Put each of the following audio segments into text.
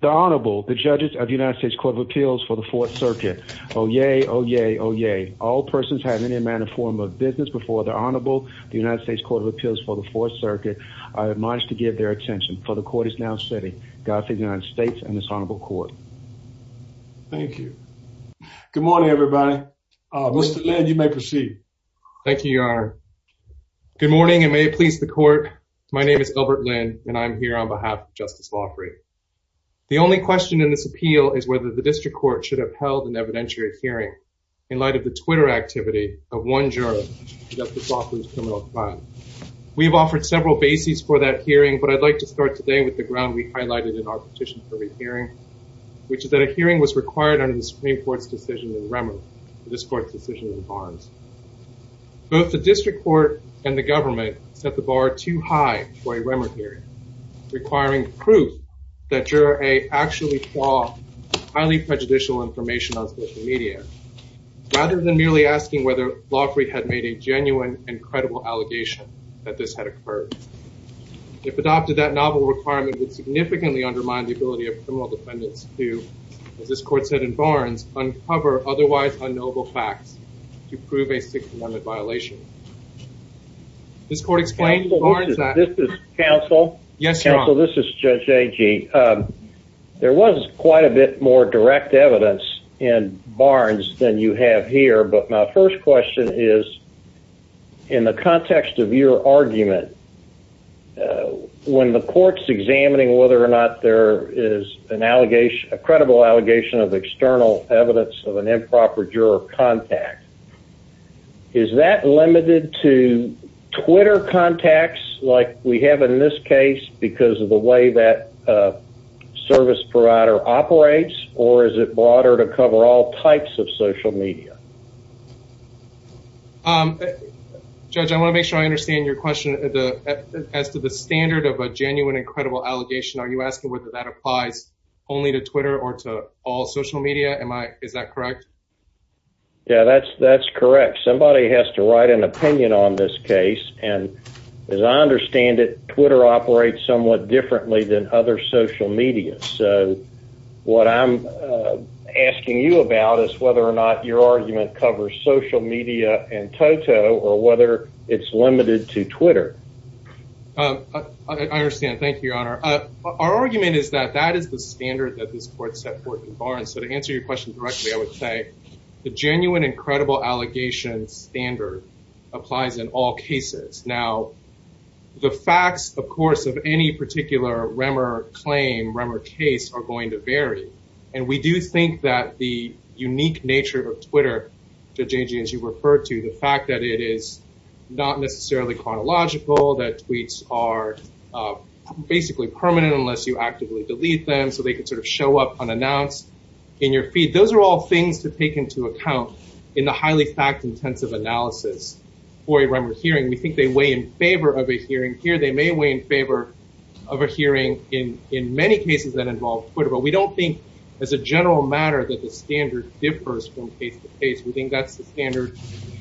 The Honorable, the judges of the United States Court of Appeals for the Fourth Circuit. Oh, yay, oh, yay, oh, yay. All persons having any amount of form of business before the Honorable, the United States Court of Appeals for the Fourth Circuit, are admonished to give their attention, for the court is now sitting. Godspeed, United States and this honorable court. Thank you. Good morning, everybody. Mr. Lynn, you may proceed. Thank you, Your Honor. Good morning, and may it please the court, my name is Albert Lynn, and I'm here on behalf of Justice Loughry. The only question in this appeal is whether the district court should have held an evidentiary hearing, in light of the Twitter activity of one juror, Justice Loughry's criminal client. We've offered several bases for that hearing, but I'd like to start today with the ground we've highlighted in our petition for this hearing, which is that a hearing was required under the Supreme Court's decision in Remnant, this court's decision in Barnes. Both the district court and the government set the bar too high for a Remnant hearing, requiring proof that Juror A actually saw highly prejudicial information on social media, rather than merely asking whether Loughry had made a genuine and credible allegation that this had occurred. If adopted, that novel requirement would significantly undermine the ability of criminal defendants to, as this court said in Barnes, uncover otherwise unknowable facts to prove a six-month violation. This court explains Barnes... Counsel, this is Counsel. Yes, Your Honor. Counsel, this is Judge Agee. There was quite a bit more direct evidence in Barnes than you have here, but my first question is, in the context of your argument, when the court's examining whether or not there is a credible allegation of external evidence of an improper juror contact, is that limited to Twitter contacts, like we have in this case, because of the way that service provider operates, or is it broader to cover all types of social media? Judge, I want to make sure I understand your question. As to the standard of a genuine and credible allegation, are you asking whether that applies only to Twitter or to all social media? Is that correct? Yeah, that's correct. Somebody has to write an opinion on this case, and as I understand it, Twitter operates somewhat differently than other social media. So, what I'm asking you about is whether or not your argument covers social media and Toto, or whether it's limited to Twitter. Thank you, Your Honor. Our argument is that that is the standard that this court set forth in Barnes. So, to answer your question directly, I would say the genuine and credible allegation standard applies in all cases. Now, the facts, of course, of any particular Remmer claim, Remmer case, are going to vary. And we do think that the unique nature of Twitter, Judge Angie, as you referred to, the fact that it is not necessarily chronological, that tweets are basically permanent unless you actively delete them, so they can sort of show up unannounced in your feed, those are all things to take into account in the highly fact-intensive analysis for a Remmer hearing. We think they weigh in favor of a hearing here. They may weigh in favor of a hearing in many cases that involve Twitter, but we don't think as a general matter that the standard differs from case to case. We think that's the standard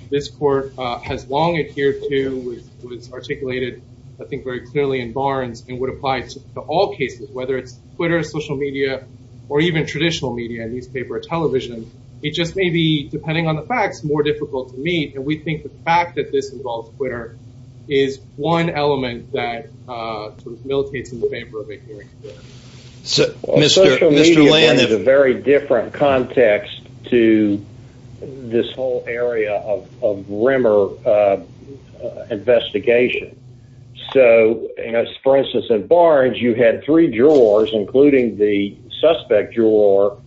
this court has long adhered to, was articulated, I think, very clearly in Barnes, and would apply to all cases, whether it's Twitter, social media, or even traditional media, newspaper or television. It just may be, depending on the facts, more difficult to meet, and we think the fact that this involves Twitter is one element that sort of militates in favor of a hearing here. Social media is a very different context to this whole area of Remmer investigation. So, for instance, in Barnes, you had three jurors, including the suspect juror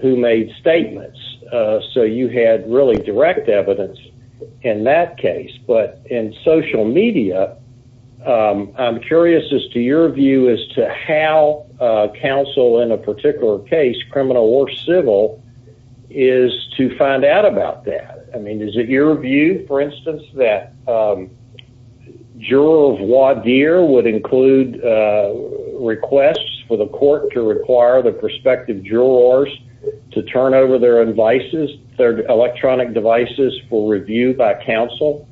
who made statements. So you had really direct evidence in that case, but in social media, I'm curious as to your view as to how counsel in a particular case, criminal or civil, is to find out about that. I mean, is it your view, for instance, that jurors voir dire would include requests for the court to require the prospective jurors to turn over their devices, their electronic devices, for review by counsel?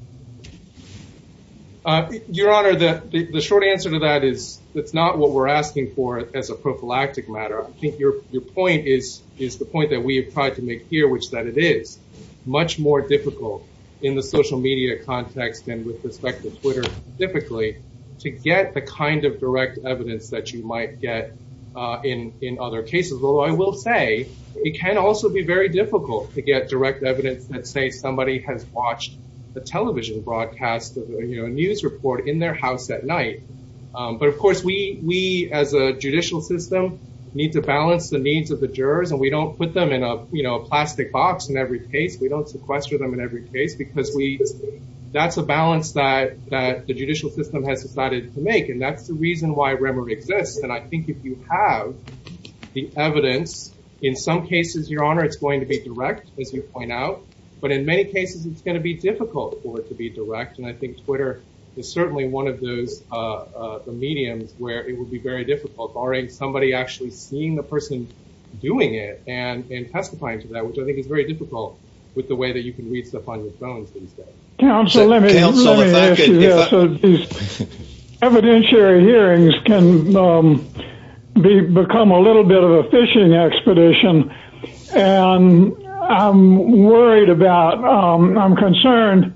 Your Honor, the short answer to that is it's not what we're asking for as a prophylactic matter. I think your point is the point that we have tried to make here, which is that it is much more difficult in the social media context and with respect to Twitter specifically, to get the kind of direct evidence that you might get in other cases. Although I will say it can also be very difficult to get direct evidence that say somebody has watched a television broadcast or a news report in their house at night. But, of course, we as a judicial system need to balance the needs of the jurors and we don't put them in a plastic box in every case. We don't sequester them in every case because that's a balance that the judicial system has decided to make. And that's the reason why grammar exists. But I think if you have the evidence, in some cases, your Honor, it's going to be direct, as you point out. But in many cases, it's going to be difficult for it to be direct. And I think Twitter is certainly one of the mediums where it would be very difficult, barring somebody actually seeing the person doing it and testifying to that, which I think is very difficult with the way that you can read stuff on your phone these days. Council, let me ask you this. Evidentiary hearings can become a little bit of a fishing expedition. And I'm worried about, I'm concerned.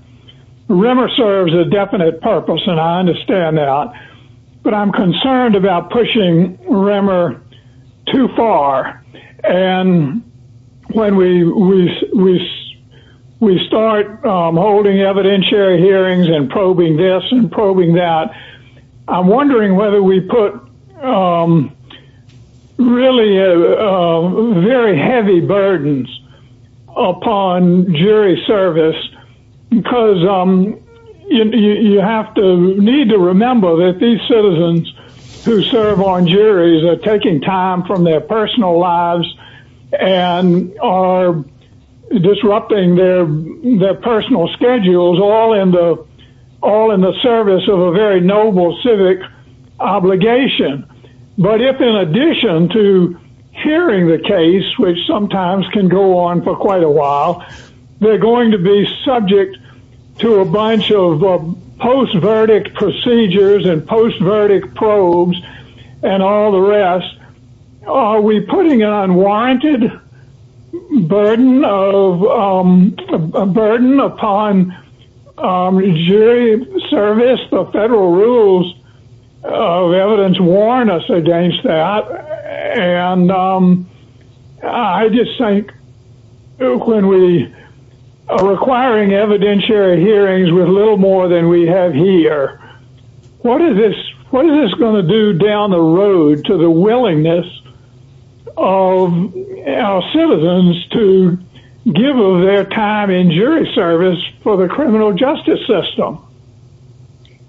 Rimmer serves a definite purpose and I understand that. But I'm concerned about pushing Rimmer too far. And when we start holding evidentiary hearings and probing this and probing that, I'm wondering whether we put really very heavy burdens upon jury service. Because you have to need to remember that these citizens who serve on juries are taking time from their personal lives and are disrupting their personal schedules, all in the service of a very noble civic obligation. But if in addition to hearing the case, which sometimes can go on for quite a while, they're going to be subject to a bunch of post-verdict procedures and post-verdict probes and all the rest. Are we putting an unwarranted burden upon jury service? The federal rules of evidence warn us against that. And I just think when we are requiring evidentiary hearings with a little more than we have here, what is this going to do down the road to the willingness of our citizens to give them their time in jury service for the criminal justice system?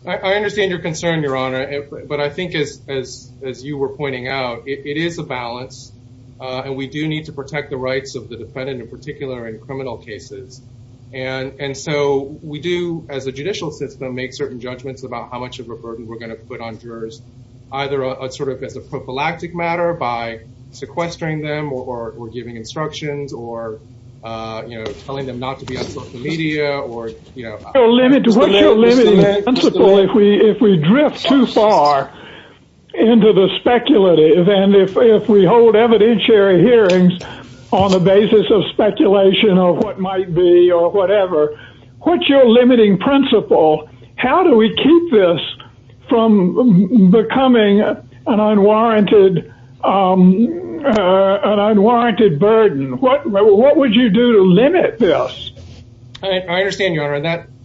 I understand your concern, Your Honor. But I think, as you were pointing out, it is a balance. And we do need to protect the rights of the defendant, in particular in criminal cases. And so we do, as a judicial system, make certain judgments about how much of a burden we're going to put on jurors, either as a prophylactic matter by sequestering them or giving instructions or telling them not to be on social media. What's your limiting principle if we drift too far into the speculative? And if we hold evidentiary hearings on the basis of speculation of what might be or whatever, what's your limiting principle? How do we keep this from becoming an unwarranted burden? What would you do to limit this? I understand, Your Honor.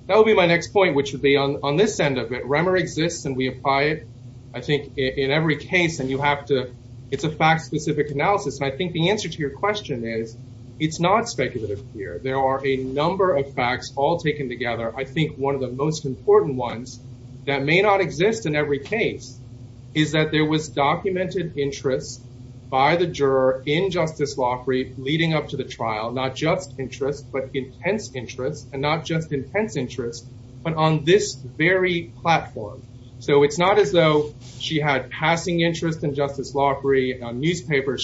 That would be my next point, which would be on this end of it. Remmer exists, and we apply it, I think, in every case. And you have to—it's a fact-specific analysis. And I think the answer to your question is it's not speculative here. There are a number of facts all taken together. I think one of the most important ones that may not exist in every case is that there was documented interest by the juror in Justice Loffrey leading up to the trial, not just interest but intense interest and not just intense interest, but on this very platform. So it's not as though she had passing interest in Justice Loffrey in a newspaper.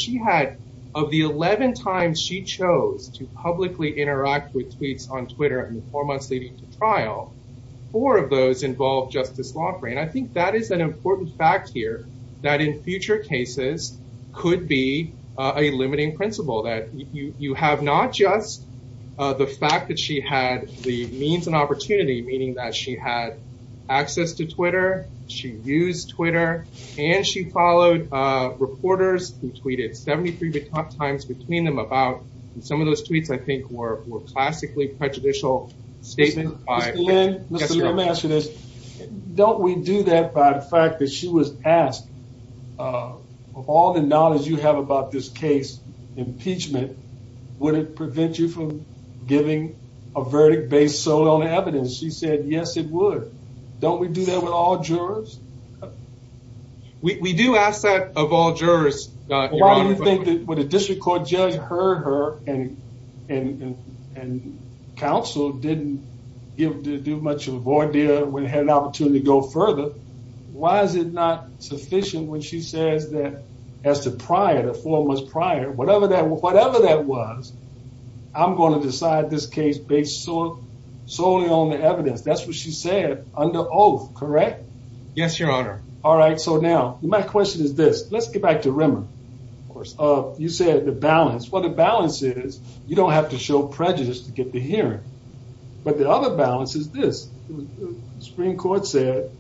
Of the 11 times she chose to publicly interact with tweets on Twitter in the four months leading to trial, four of those involved Justice Loffrey. And I think that is an important fact here that in future cases could be a limiting principle, that you have not just the fact that she had the means and opportunity, meaning that she had access to Twitter, she used Twitter, and she followed reporters who tweeted 73 times between them about—and some of those tweets, I think, were classically prejudicial statements. Mr. Lynn, let me ask you this. Don't we do that by the fact that she was asked, of all the knowledge you have about this case, impeachment, would it prevent you from giving a verdict based solely on evidence? She said yes, it would. Don't we do that with all jurors? We do ask that of all jurors. Why do you think that when a district court judge heard her and counsel didn't do much of a voir dire when they had an opportunity to go further, why is it not sufficient when she said that as to prior, the four months prior, whatever that was, I'm going to decide this case based solely on the evidence? That's what she said under oath, correct? Yes, Your Honor. All right, so now, my question is this. Let's get back to Rema. Of course. You said the balance. Well, the balance is you don't have to show prejudice to get the hearing, but the other balance is this. The Supreme Court said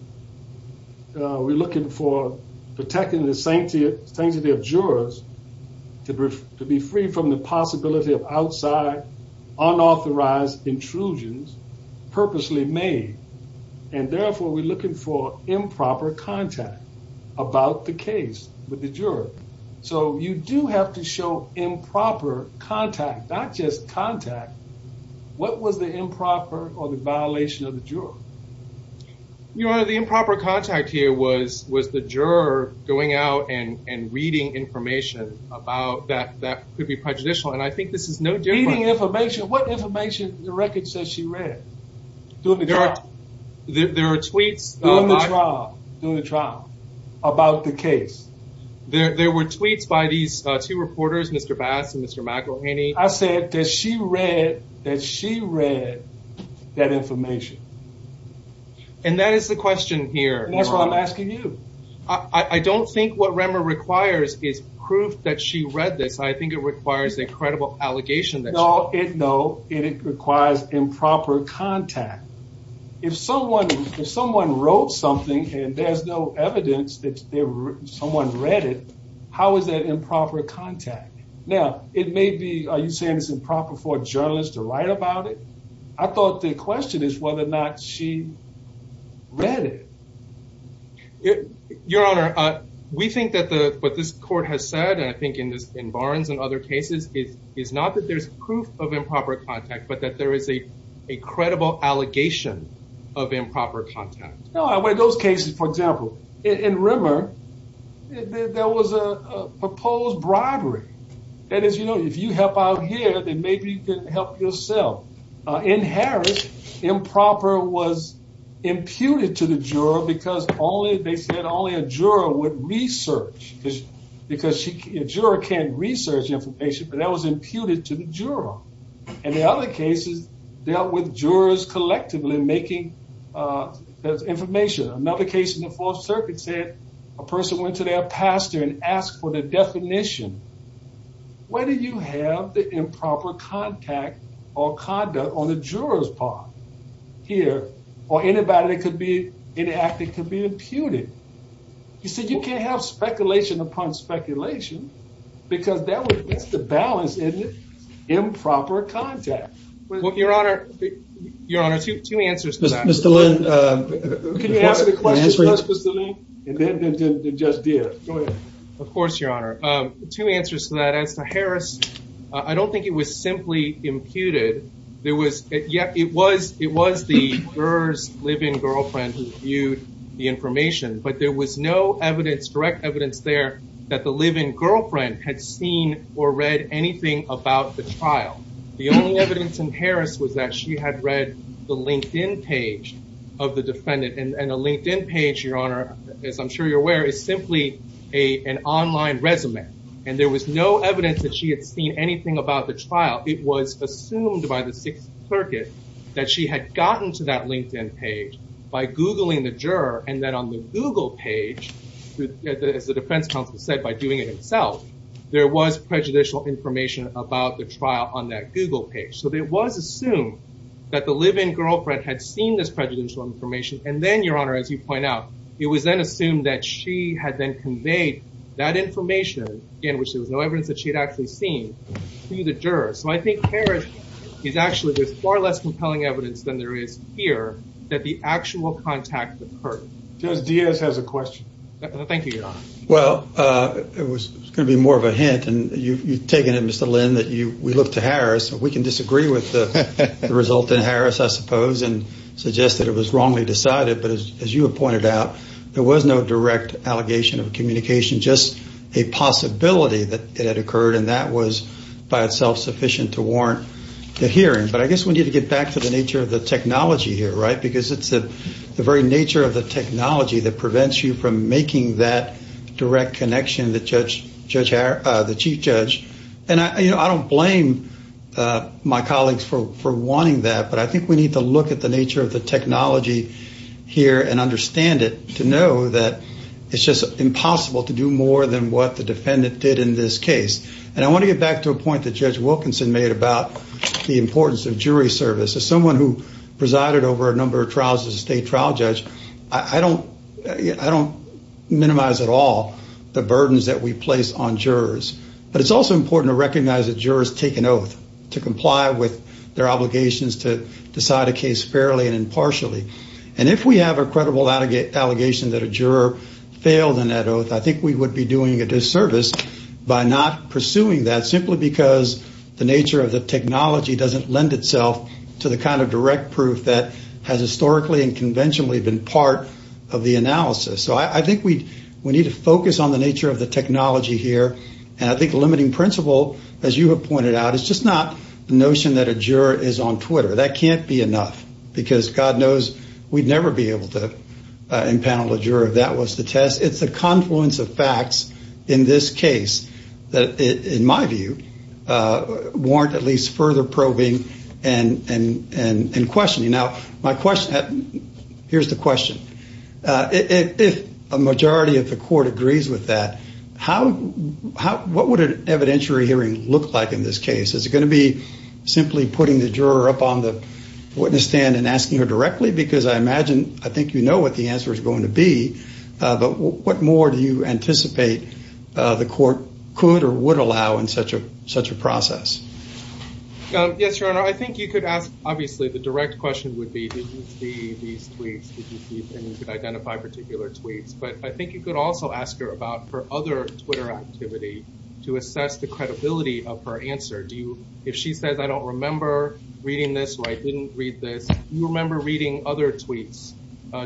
we're looking for protecting the sanctity of jurors to be free from the possibility of outside, unauthorized intrusions purposely made. And therefore, we're looking for improper contact about the case with the juror. So you do have to show improper contact, not just contact. What was the improper or the violation of the juror? Your Honor, the improper contact here was the juror going out and reading information about that could be prejudicial. And I think this is no different. Reading information? What information did the record say she read? There were tweets. During the trial. During the trial about the case. There were tweets by these two reporters, Mr. Bass and Mr. McElhaney. I said that she read that information. And that is the question here. That's what I'm asking you. I don't think what Rema requires is proof that she read this. I think it requires a credible allegation. No, it requires improper contact. If someone wrote something and there's no evidence that someone read it, how is that improper contact? Now, it may be, are you saying it's improper for a journalist to write about it? I thought the question is whether or not she read it. Your Honor, we think that what this court has said, and I think in Barnes and other cases, is not that there's proof of improper contact, but that there is a credible allegation of improper contact. No, in those cases, for example, in Rema, there was a proposed bribery. That is, you know, if you have out here, then maybe you can help yourself. In Harry, improper was imputed to the juror because they said only a juror would research. Because a juror can't research information, but that was imputed to the juror. And in other cases, dealt with jurors collectively making the information. Another case in the Fourth Circuit said a person went to their pastor and asked for their definition. Whether you have the improper contact or conduct on the juror's part here, or anybody that could be inactive could be imputed. You see, you can't have speculation upon speculation, because that would mix the balance in improper contact. Your Honor, two answers to that. Mr. Lynn, can you answer the question? And then just this. Go ahead. Of course, Your Honor. Two answers to that. As for Harris, I don't think it was simply imputed. It was the juror's live-in girlfriend who viewed the information. But there was no direct evidence there that the live-in girlfriend had seen or read anything about the child. The only evidence in Harris was that she had read the LinkedIn page of the defendant. And the LinkedIn page, Your Honor, as I'm sure you're aware, is simply an online resume. And there was no evidence that she had seen anything about the child. It was assumed by the Sixth Circuit that she had gotten to that LinkedIn page by Googling the juror, and that on the Google page, as the defense counsel said, by doing it himself, there was prejudicial information about the trial on that Google page. So it was assumed that the live-in girlfriend had seen this prejudicial information. And then, Your Honor, as you point out, it was then assumed that she had then conveyed that information, again, which was no evidence that she had actually seen, to the juror. So I think Harris is actually with far less compelling evidence than there is here that the actual contact occurred. Judge Diaz has a question. Thank you, Your Honor. Well, it was going to be more of a hint, and you've taken it, Mr. Lynn, that we look to Harris. We can disagree with the result in Harris, I suppose, and suggest that it was wrongly decided. But as you have pointed out, there was no direct allegation of communication, just a possibility that it had occurred, and that was by itself sufficient to warrant the hearing. But I guess we need to get back to the nature of the technology here, right, because it's the very nature of the technology that prevents you from making that direct connection to the chief judge. And I don't blame my colleagues for wanting that, but I think we need to look at the nature of the technology here and understand it, to know that it's just impossible to do more than what the defendant did in this case. And I want to get back to a point that Judge Wilkinson made about the importance of jury service. As someone who presided over a number of trials as a state trial judge, I don't minimize at all the burdens that we place on jurors. But it's also important to recognize that jurors take an oath to comply with their obligations to decide a case fairly and impartially. And if we have a credible allegation that a juror failed on that oath, I think we would be doing a disservice by not pursuing that, simply because the nature of the technology doesn't lend itself to the kind of direct proof that has historically and conventionally been part of the analysis. So I think we need to focus on the nature of the technology here. And I think limiting principle, as you have pointed out, is just not the notion that a juror is on Twitter. That can't be enough, because God knows we'd never be able to impanel a juror if that was the test. It's the confluence of facts in this case that, in my view, warrant at least further probing and questioning. Now, here's the question. If a majority of the court agrees with that, what would an evidentiary hearing look like in this case? Is it going to be simply putting the juror up on the witness stand and asking her directly? Because I imagine, I think you know what the answer is going to be. But what more do you anticipate the court could or would allow in such a process? Yes, Your Honor. I think you could ask, obviously, the direct question would be, did you see these tweets? And you could identify particular tweets. But I think you could also ask her about her other Twitter activity to assess the credibility of her answer. If she says, I don't remember reading this or I didn't read this, do you remember reading other tweets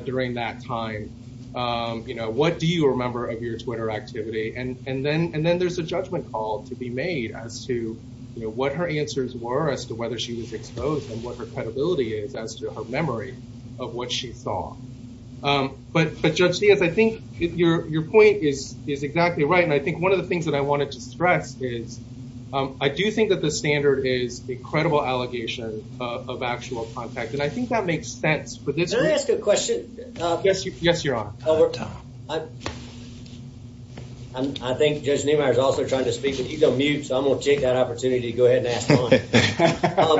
during that time? What do you remember of your Twitter activity? And then there's a judgment call to be made as to what her answers were as to whether she was exposed and what her credibility is as to her memory of what she saw. But, Judge Diaz, I think your point is exactly right. And I think one of the things that I want to stress is I do think that the standard is a credible allegation of actual contact. And I think that makes sense. Can I ask a question? Yes, Your Honor. I think Judge Niemeyer is also trying to speak. He's on mute, so I'm going to take that opportunity to go ahead and ask a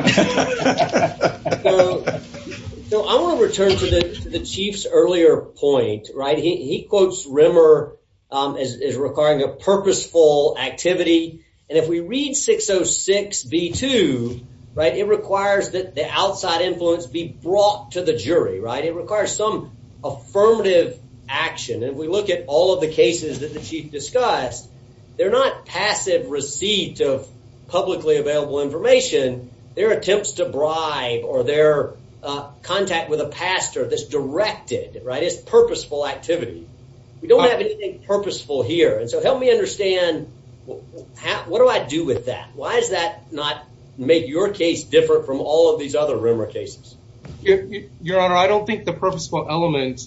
question. So I want to return to the Chief's earlier point. He quotes Rimmer as requiring a purposeful activity. And if we read 606B2, it requires that the outside influence be brought to the jury. It requires some affirmative action. And if we look at all of the cases that the Chief discussed, they're not passive receipts of publicly available information. They're attempts to bribe or they're contact with a pastor that's directed. It's purposeful activity. We don't have anything purposeful here. And so help me understand, what do I do with that? Why does that not make your case different from all of these other Rimmer cases? Your Honor, I don't think the purposeful element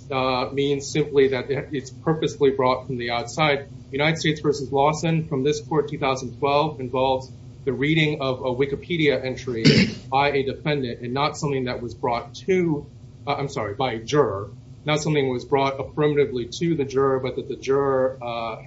means simply that it's purposefully brought from the outside. United States v. Lawson, from this court 2012, involved the reading of a Wikipedia entry by a defendant and not something that was brought to, I'm sorry, by a juror. Not something that was brought affirmatively to the juror, but that the juror,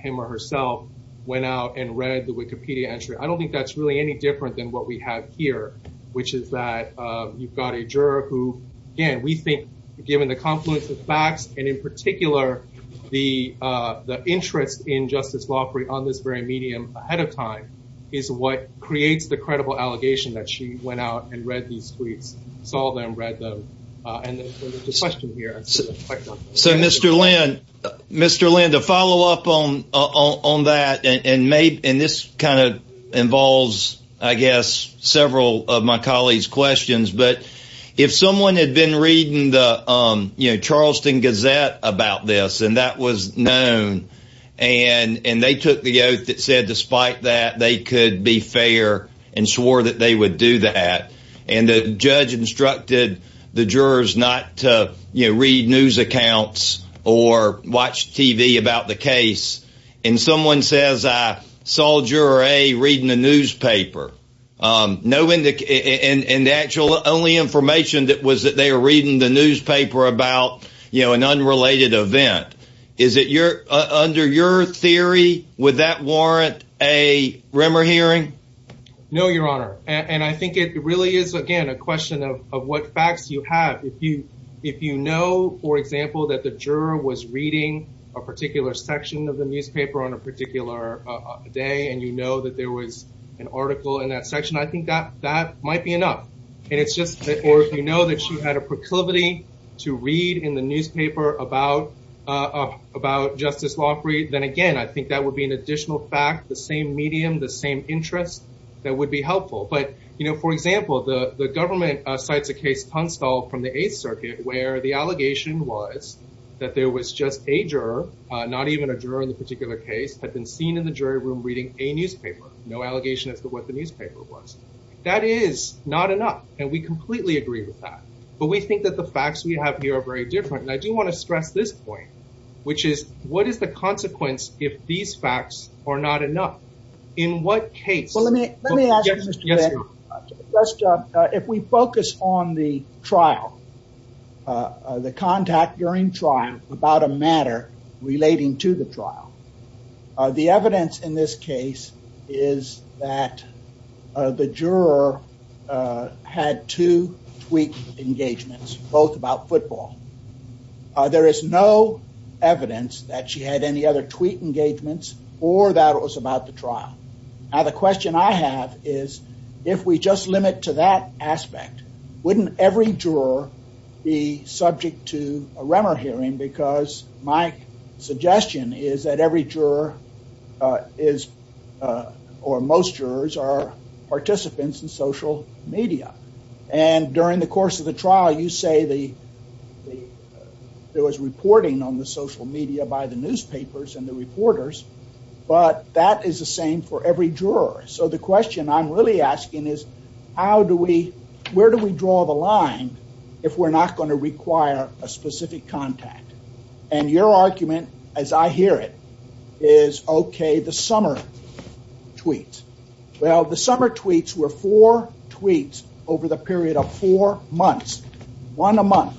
him or herself, went out and read the Wikipedia entry. I don't think that's really any different than what we have here, which is that you've got a juror who, again, we think, given the confluence of facts, and in particular the interest in justice law free on this very medium ahead of time, is what creates the credible allegation that she went out and read these tweets, saw them, read them. And there's a question here. So, Mr. Lynn, to follow up on that, and this kind of involves, I guess, several of my colleagues' questions, but if someone had been reading the Charleston Gazette about this, and that was known, and they took the oath that said despite that they could be fair and swore that they would do that, and the judge instructed the jurors not to read news accounts or watch TV about the case, and someone says, I saw Juror A reading the newspaper, and the only information was that they were reading the newspaper about an unrelated event. Under your theory, would that warrant a rumor hearing? No, Your Honor, and I think it really is, again, a question of what facts you have. If you know, for example, that the juror was reading a particular section of the newspaper on a particular day, and you know that there was an article in that section, I think that might be enough. Or if you know that she had a proclivity to read in the newspaper about justice law free, then again, I think that would be an additional fact, the same medium, the same interest that would be helpful. But, you know, for example, the government cites the case Tungstall from the Eighth Circuit, where the allegation was that there was just a juror, not even a juror in the particular case, had been seen in the jury room reading a newspaper. No allegation as to what the newspaper was. That is not enough, and we completely agree with that, but we think that the facts we have here are very different. Now, I do want to stress this point, which is what is the consequence if these facts are not enough? In what case? Let me ask you, Mr. Davis, a question. If we focus on the trial, the contact during trial about a matter relating to the trial, the evidence in this case is that the juror had two tweet engagements, both about football. There is no evidence that she had any other tweet engagements or that it was about the trial. Now, the question I have is if we just limit to that aspect, wouldn't every juror be subject to a Remmer hearing? Because my suggestion is that every juror or most jurors are participants in social media. And during the course of the trial, you say there was reporting on the social media by the newspapers and the reporters, but that is the same for every juror. So, the question I'm really asking is where do we draw the line if we're not going to require a specific contact? And your argument, as I hear it, is okay, the summer tweets. Well, the summer tweets were four tweets over the period of four months, one a month.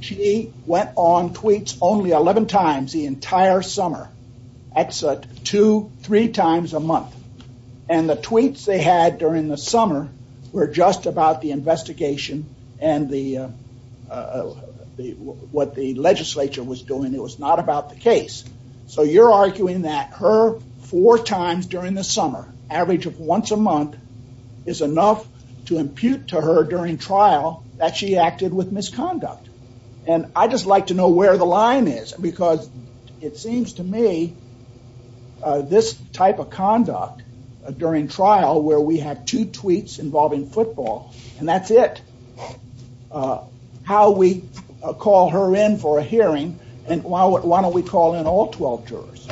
She went on tweets only 11 times the entire summer. That's two, three times a month. And the tweets they had during the summer were just about the investigation and what the legislature was doing. It was not about the case. So, you're arguing that her four times during the summer, average of once a month, is enough to impute to her during trial that she acted with misconduct. And I'd just like to know where the line is because it seems to me this type of conduct during trial where we had two tweets involving football and that's it. How we call her in for a hearing and why don't we call in all 12 jurors?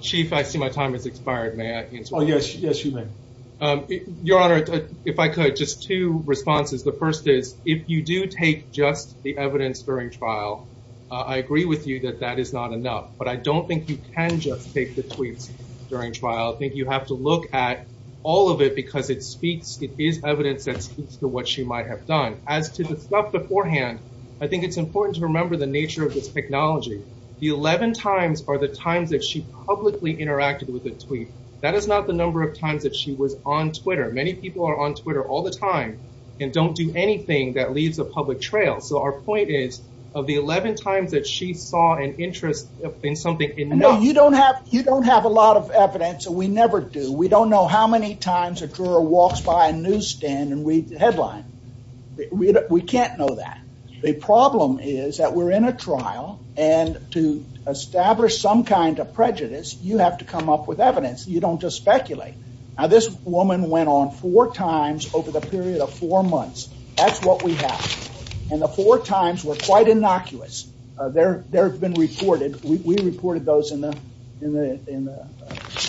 Chief, I see my time has expired. May I add something? Yes, you may. Your Honor, if I could, just two responses. The first is if you do take just the evidence during trial, I agree with you that that is not enough. But I don't think you can just take the tweets during trial. I think you have to look at all of it because it speaks, it is evidence that speaks to what she might have done. As to the stuff beforehand, I think it's important to remember the nature of this technology. The 11 times are the times that she publicly interacted with a tweet. That is not the number of times that she was on Twitter. Many people are on Twitter all the time and don't do anything that leaves a public trail. So, our point is of the 11 times that she saw an interest in something enough. No, you don't have a lot of evidence and we never do. We don't know how many times a juror walks by a newsstand and reads the headline. We can't know that. The problem is that we're in a trial and to establish some kind of prejudice, you have to come up with evidence. You don't just speculate. Now, this woman went on four times over the period of four months. That's what we have. And the four times were quite innocuous. They have been reported. We reported those in the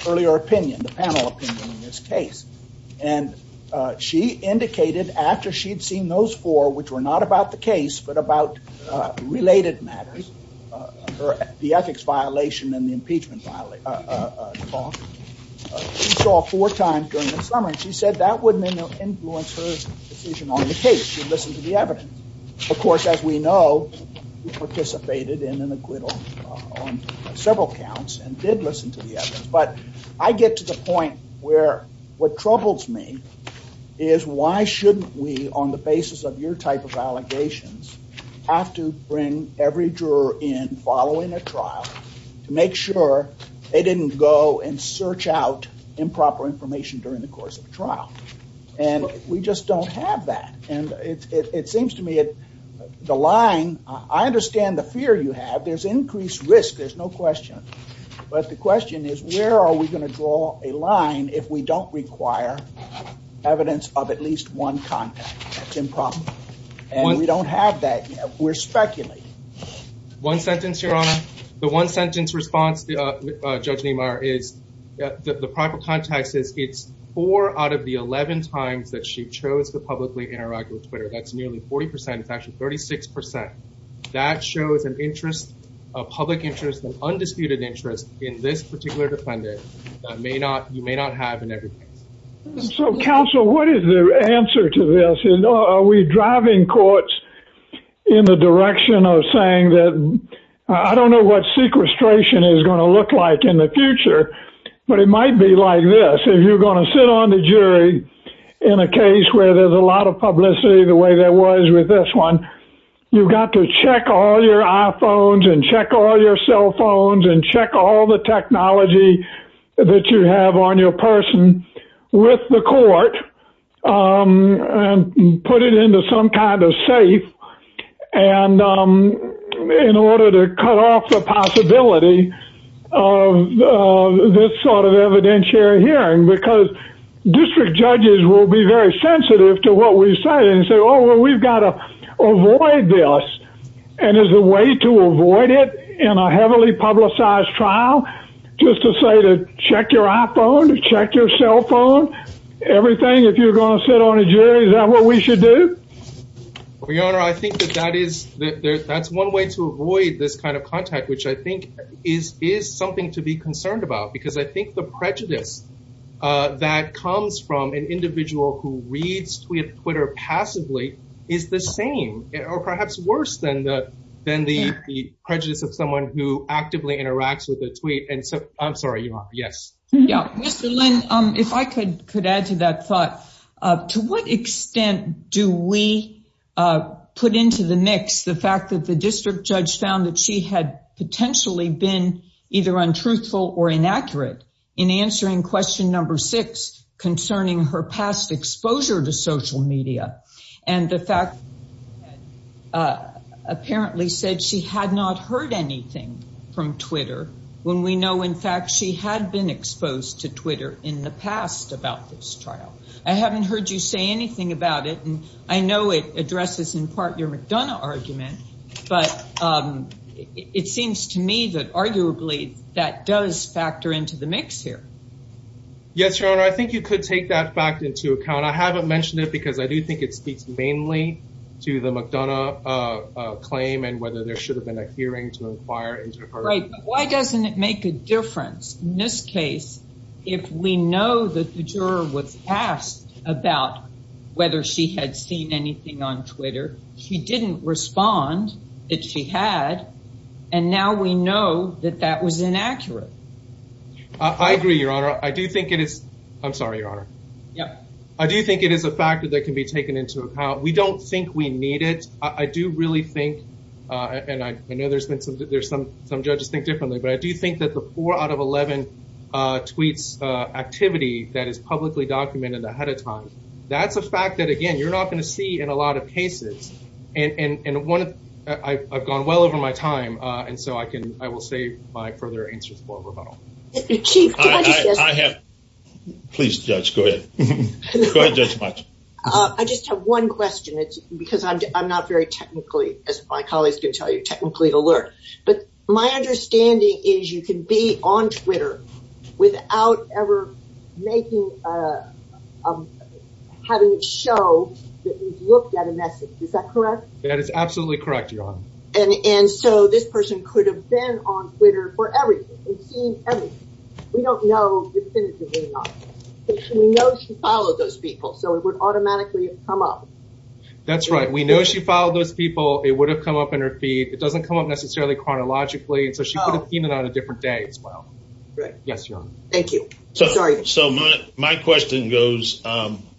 earlier opinion, the panel opinion in this case. And she indicated after she'd seen those four, which were not about the case but about related matters, the ethics violation and the impeachment violation, she saw four times during the summer and she said that wouldn't influence her decision on the case. She listened to the evidence. Of course, as we know, she participated in an acquittal on several counts and did listen to the evidence. But I get to the point where what troubles me is why shouldn't we, on the basis of your type of allegations, have to bring every juror in following a trial to make sure they didn't go and search out improper information during the course of the trial. And we just don't have that. And it seems to me the line, I understand the fear you have. There's increased risk. There's no question. But the question is where are we going to draw a line if we don't require evidence of at least one contact. It's improper. And we don't have that. We're speculating. One sentence, Your Honor. The one sentence response, Judge Niemeyer, is that the proper context is it's four out of the 11 times that she chose to publicly interact with Twitter. That's nearly 40%. It's actually 36%. That shows an interest, a public interest, an undisputed interest in this particular defendant that you may not have in every case. So, counsel, what is the answer to this? Are we driving courts in the direction of saying that I don't know what sequestration is going to look like in the future, but it might be like this. If you're going to sit on the jury in a case where there's a lot of publicity the way there was with this one, you've got to check all your iPhones and check all your cell phones and check all the technology that you have on your person with the court and put it into some kind of safe in order to cut off the possibility of this sort of evidentiary hearing. Because district judges will be very sensitive to what we say and say, oh, well, we've got to avoid this. And as a way to avoid it in a heavily publicized trial, just to say to check your iPhone, to check your cell phone, everything, if you're going to sit on a jury, is that what we should do? Your Honor, I think that that's one way to avoid this kind of contact, which I think is something to be concerned about because I think the prejudice that comes from an individual who reads Twitter passively is the same or perhaps worse than the prejudice of someone who actively interacts with a tweet. I'm sorry, Your Honor. Yes. Mr. Lin, if I could add to that thought, to what extent do we put into the mix the fact that the district judge found that she had potentially been either untruthful or inaccurate in answering question number six concerning her past exposure to social media and the fact apparently said she had not heard anything from Twitter when we know, in fact, she had been exposed to Twitter in the past about this trial? I haven't heard you say anything about it, and I know it addresses in part your McDonough argument, but it seems to me that arguably that does factor into the mix here. Yes, Your Honor, I think you could take that fact into account. I haven't mentioned it because I do think it speaks mainly to the McDonough claim and whether there should have been a hearing to inquire into her- Right, but why doesn't it make a difference? In this case, if we know that the juror was asked about whether she had seen anything on Twitter, she didn't respond that she had, and now we know that that was inaccurate. I agree, Your Honor. I do think it is- I'm sorry, Your Honor. Yes, I do think it is a factor that can be taken into account. We don't think we need it. I do really think, and I know some judges think differently, but I do think that the four out of 11 tweets activity that is publicly documented ahead of time, that's a fact that, again, you're not going to see in a lot of cases, and I've gone well over my time, and so I will save my further answers for rebuttal. Chief, I have- Please, Judge, go ahead. Go ahead, Judge Mutch. I just have one question because I'm not very technically, as my colleagues can tell you, technically alert, but my understanding is you can be on Twitter without ever having it show that you've looked at a message. Is that correct? That is absolutely correct, Your Honor. And so this person could have been on Twitter for everything and seen everything. We don't know definitively, but we know she followed those people, so it would automatically come up. That's right. We know she followed those people. It would have come up in her feed. It doesn't come up necessarily chronologically, so she could have seen it on a different day as well. Yes, Your Honor. Thank you. So my question goes,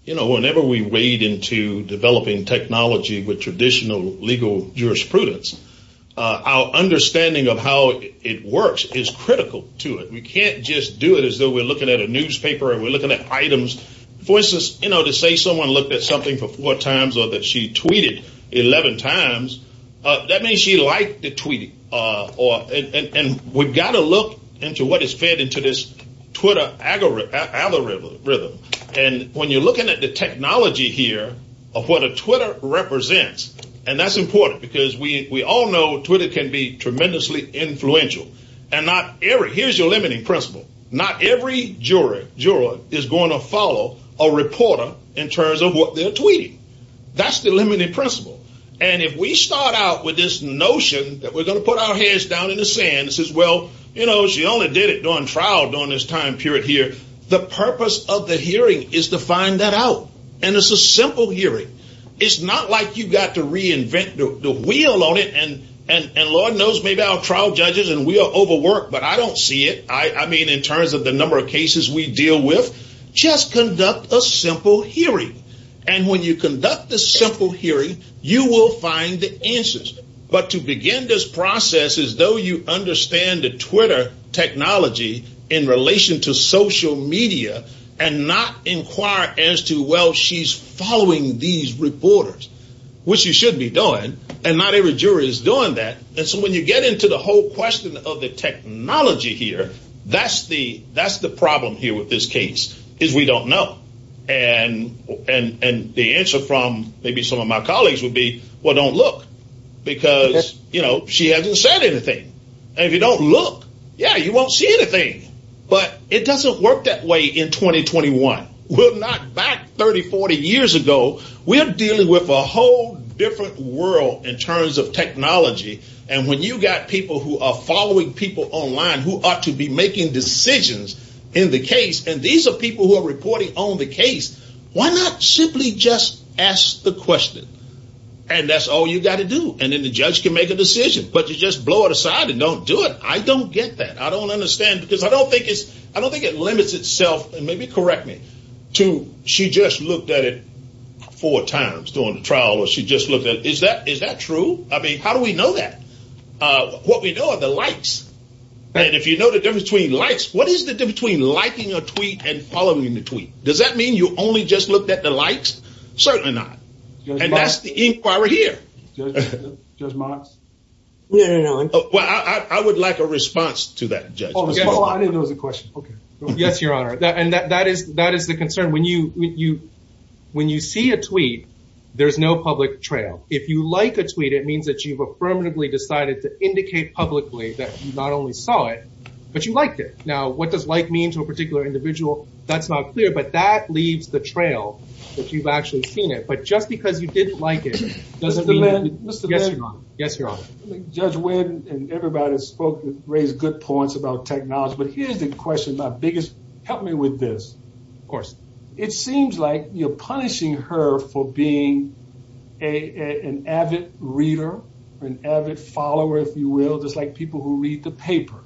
you know, whenever we wade into developing technology with traditional legal jurisprudence, our understanding of how it works is critical to it. We can't just do it as though we're looking at a newspaper and we're looking at items. For instance, you know, to say someone looked at something four times or that she tweeted 11 times, that means she liked the tweet. And we've got to look into what is fed into this Twitter algorithm. And when you're looking at the technology here of what a Twitter represents, and that's important because we all know Twitter can be tremendously influential. Here's your limiting principle. Not every juror is going to follow a reporter in terms of what they're tweeting. That's the limiting principle. And if we start out with this notion that we're going to put our hands down in the sand and say, well, you know, she only did it during trial during this time period here, the purpose of the hearing is to find that out. And it's a simple hearing. It's not like you've got to reinvent the wheel on it, and Lord knows maybe I'll trial judges and we'll overwork, but I don't see it, I mean, in terms of the number of cases we deal with. Just conduct a simple hearing. And when you conduct a simple hearing, you will find the answers. But to begin this process as though you understand the Twitter technology in relation to social media and not inquire as to, well, she's following these reporters, which you should be doing, and not every juror is doing that. And so when you get into the whole question of the technology here, that's the problem here with this case is we don't know. And the answer from maybe some of my colleagues would be, well, don't look. Because, you know, she hasn't said anything. And if you don't look, yeah, you won't see anything. But it doesn't work that way in 2021. We're not back 30, 40 years ago. We're dealing with a whole different world in terms of technology. And when you've got people who are following people online who ought to be making decisions in the case, and these are people who are reporting on the case, why not simply just ask the question? And that's all you've got to do. And then the judge can make a decision. But you just blow it aside and don't do it. I don't get that. I don't understand. Because I don't think it limits itself. And maybe correct me. She just looked at it four times during the trial where she just looked at it. I mean, how do we know that? What we know are the likes. And if you know the difference between likes, what is the difference between liking a tweet and following the tweet? Does that mean you only just looked at the likes? Certainly not. And that's the inquiry here. I would like a response to that. Yes, Your Honor. And that is the concern. When you see a tweet, there's no public trail. If you like a tweet, it means that you've affirmatively decided to indicate publicly that you not only saw it, but you liked it. Now, what does like mean to a particular individual? That's not clear. But that leads the trail that you've actually seen it. But just because you didn't like it doesn't mean that you didn't like it. Yes, Your Honor. Judge Wynn and everybody that spoke raised good points about technology. But here's the question, my biggest. Help me with this. Of course. It seems like you're punishing her for being an avid reader, an avid follower, if you will, just like people who read the paper.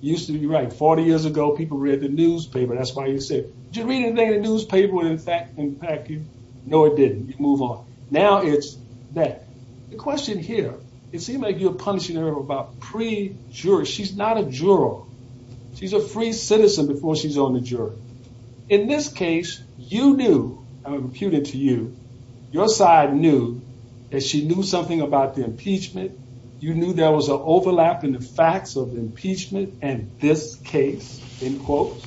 You're right. 40 years ago, people read the newspaper. That's why you say, did you read anything in the newspaper? In fact, no, I didn't. You can move on. Now it's that. The question here, it seems like you're punishing her about pre-jury. She's not a juror. She's a free citizen before she's on the jury. In this case, you knew, I'm imputing to you, your side knew that she knew something about the impeachment. You knew there was an overlap in the facts of the impeachment in this case, end quote.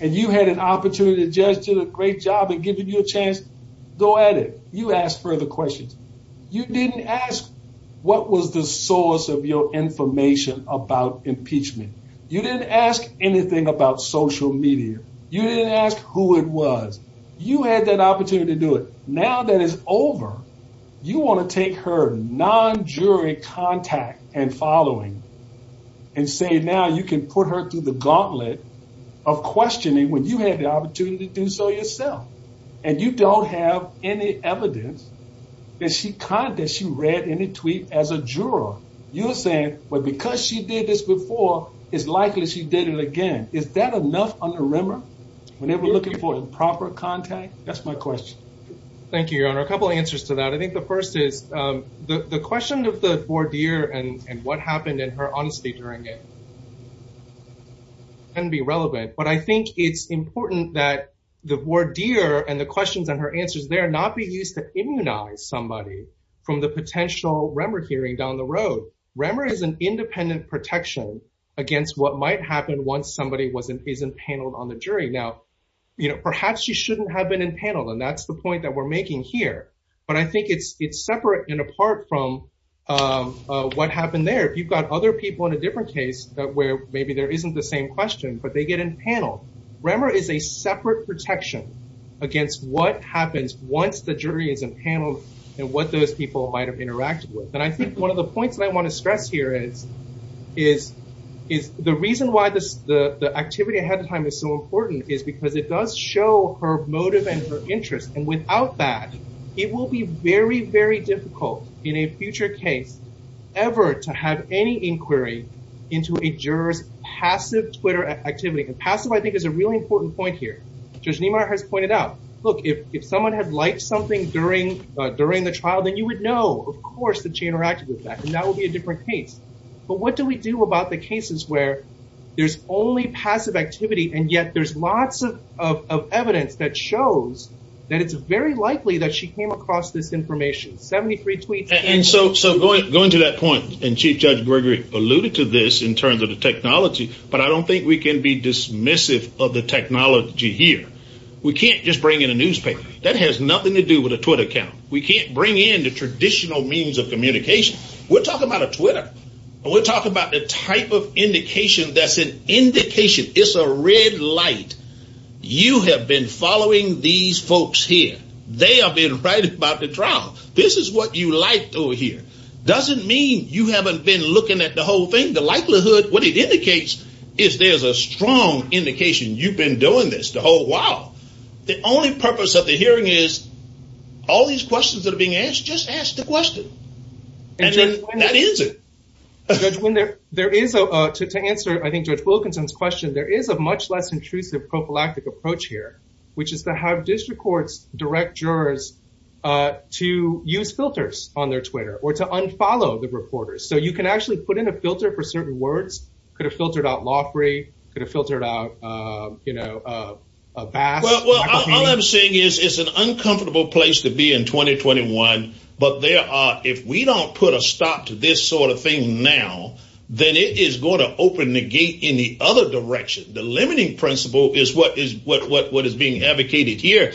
And you had an opportunity. The judge did a great job in giving you a chance to go at it. You asked further questions. You didn't ask what was the source of your information about impeachment. You didn't ask anything about social media. You didn't ask who it was. You had that opportunity to do it. Now that it's over, you want to take her non-jury contact and following and say now you can put her through the gauntlet of questioning when you had the opportunity to do so yourself. And you don't have any evidence that she read any tweet as a juror. You're saying, well, because she did this before, it's likely she did it again. Is that enough on a rumor? When they were looking for improper contact? That's my question. Thank you, your honor. A couple answers to that. I think the first is the question of the voir dire and what happened in her honesty during it can be relevant. But I think it's important that the voir dire and the questions and her answers there are not being used to immunize somebody from the potential rumor hearing down the road. Rumor is an independent protection against what might happen once somebody is impaneled on the jury. Now, you know, perhaps she shouldn't have been impaneled. And that's the point that we're making here. But I think it's separate and apart from what happened there. If you've got other people in a different case where maybe there isn't the same question, but they get impaneled. Rumor is a separate protection against what happens once the jury is impaneled and what those people might have interacted with. And I think one of the points that I want to stress here is the reason why the activity ahead of time is so important is because it does show her motive and her interest. And without that, it will be very, very difficult in a future case ever to have any inquiry into a juror's passive Twitter activity. And passive, I think, is a really important point here. Judge Niemeyer has pointed out, look, if someone had liked something during the trial, then you would know, of course, that she interacted with that. And that would be a different case. But what do we do about the cases where there's only passive activity and yet there's lots of evidence that shows that it's very likely that she came across this information? 73 tweets. And so going to that point, and Chief Judge Gregory alluded to this in terms of the technology, but I don't think we can be dismissive of the technology here. We can't just bring in a newspaper. That has nothing to do with a Twitter account. We can't bring in the traditional means of communication. We're talking about a Twitter. We're talking about the type of indication that's an indication. It's a red light. You have been following these folks here. They have been writing about the trial. This is what you liked over here. Doesn't mean you haven't been looking at the whole thing. The likelihood, what it indicates, is there's a strong indication you've been doing this the whole while. The only purpose of the hearing is all these questions that are being asked, just ask the question. And that is it. To answer, I think, Judge Wilkinson's question, there is a much less intrusive prophylactic approach here, which is to have district courts direct jurors to use filters on their Twitter or to unfollow the reporters. So you can actually put in a filter for certain words. Could have filtered out law free. Could have filtered out, you know, a bad. All I'm saying is it's an uncomfortable place to be in 2021, but there are, if we don't put a stop to this sort of thing now, then it is going to open the gate in the other direction. The limiting principle is what is being advocated here.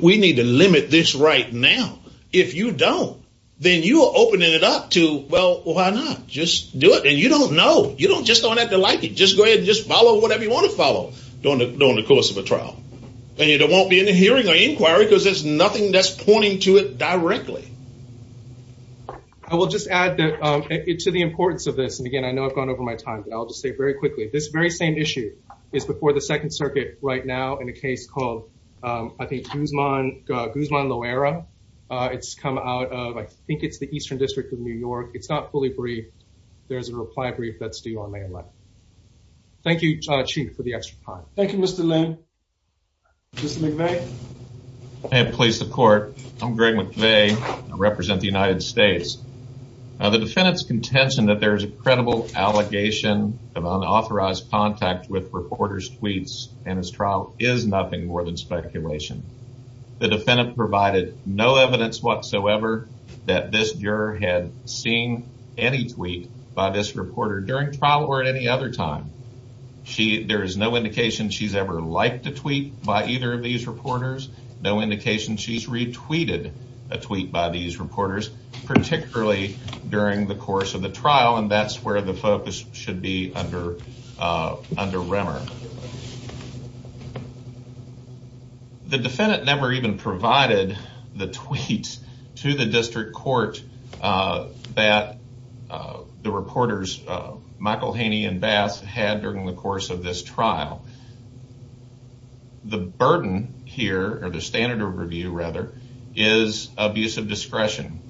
We need to limit this right now. If you don't, then you are opening it up to, well, why not? Just do it. And you don't know. You just don't have to like it. Just go ahead and just follow whatever you want to follow during the course of the trial. And there won't be any hearing or inquiry because there's nothing that's pointing to it directly. I will just add to the importance of this. And again, I know I've gone over my time, but I'll just say very quickly, this very same issue is before the Second Circuit right now in a case called, I think, Guzman Loera. It's come out of, I think it's the Eastern District of New York. It's not fully briefed. There's a reply brief that's due on May 11th. Thank you, Chief, for the extra time. Thank you, Mr. Loon. Mr. McVeigh. And police support. I'm Greg McVeigh. I represent the United States. The defendant's contention that there is a credible allegation of unauthorized contact with reporters' tweets in this trial is nothing more than speculation. The defendant provided no evidence whatsoever that this juror had seen any tweet by this reporter during trial or at any other time. There's no indication she's ever liked a tweet by either of these reporters. No indication she's retweeted a tweet by these reporters, particularly during the course of the trial. And that's where the focus should be under rimmer. The defendant never even provided the tweets to the district court that the reporters, Michael Haney and Bath, had during the course of this trial. The burden here, or the standard of review, rather, is abuse of discretion.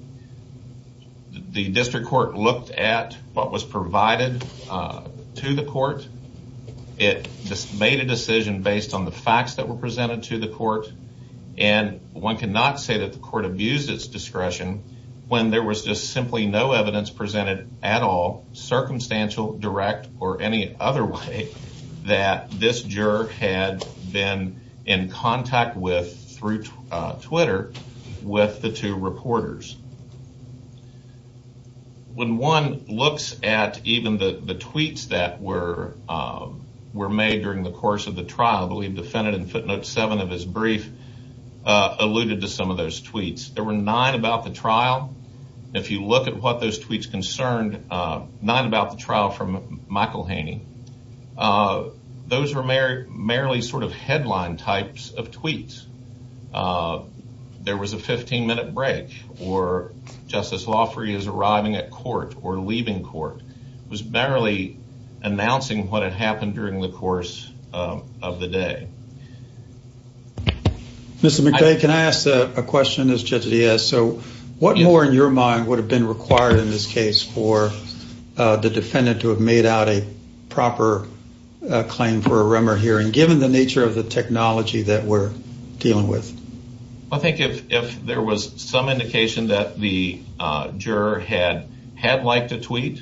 The district court looked at what was provided to the court. It made a decision based on the facts that were presented to the court. And one cannot say that the court abused its discretion when there was just simply no evidence presented at all, circumstantial, direct, or any other way, that this juror had been in contact with through Twitter with the two reporters. When one looks at even the tweets that were made during the course of the trial, I believe the defendant in footnote 7 of his brief alluded to some of those tweets. There were nine about the trial. If you look at what those tweets concerned, nine about the trial from Michael Haney. Those were merely sort of headline types of tweets. There was a 15-minute break, or Justice Loffrey is arriving at court or leaving court. It was barely announcing what had happened during the course of the day. Mr. McVeigh, can I ask a question as Justice Diaz? What more, in your mind, would have been required in this case for the defendant to have made out a proper claim for a Remmer hearing, given the nature of the technology that we're dealing with? I think if there was some indication that the juror had had liked the tweets,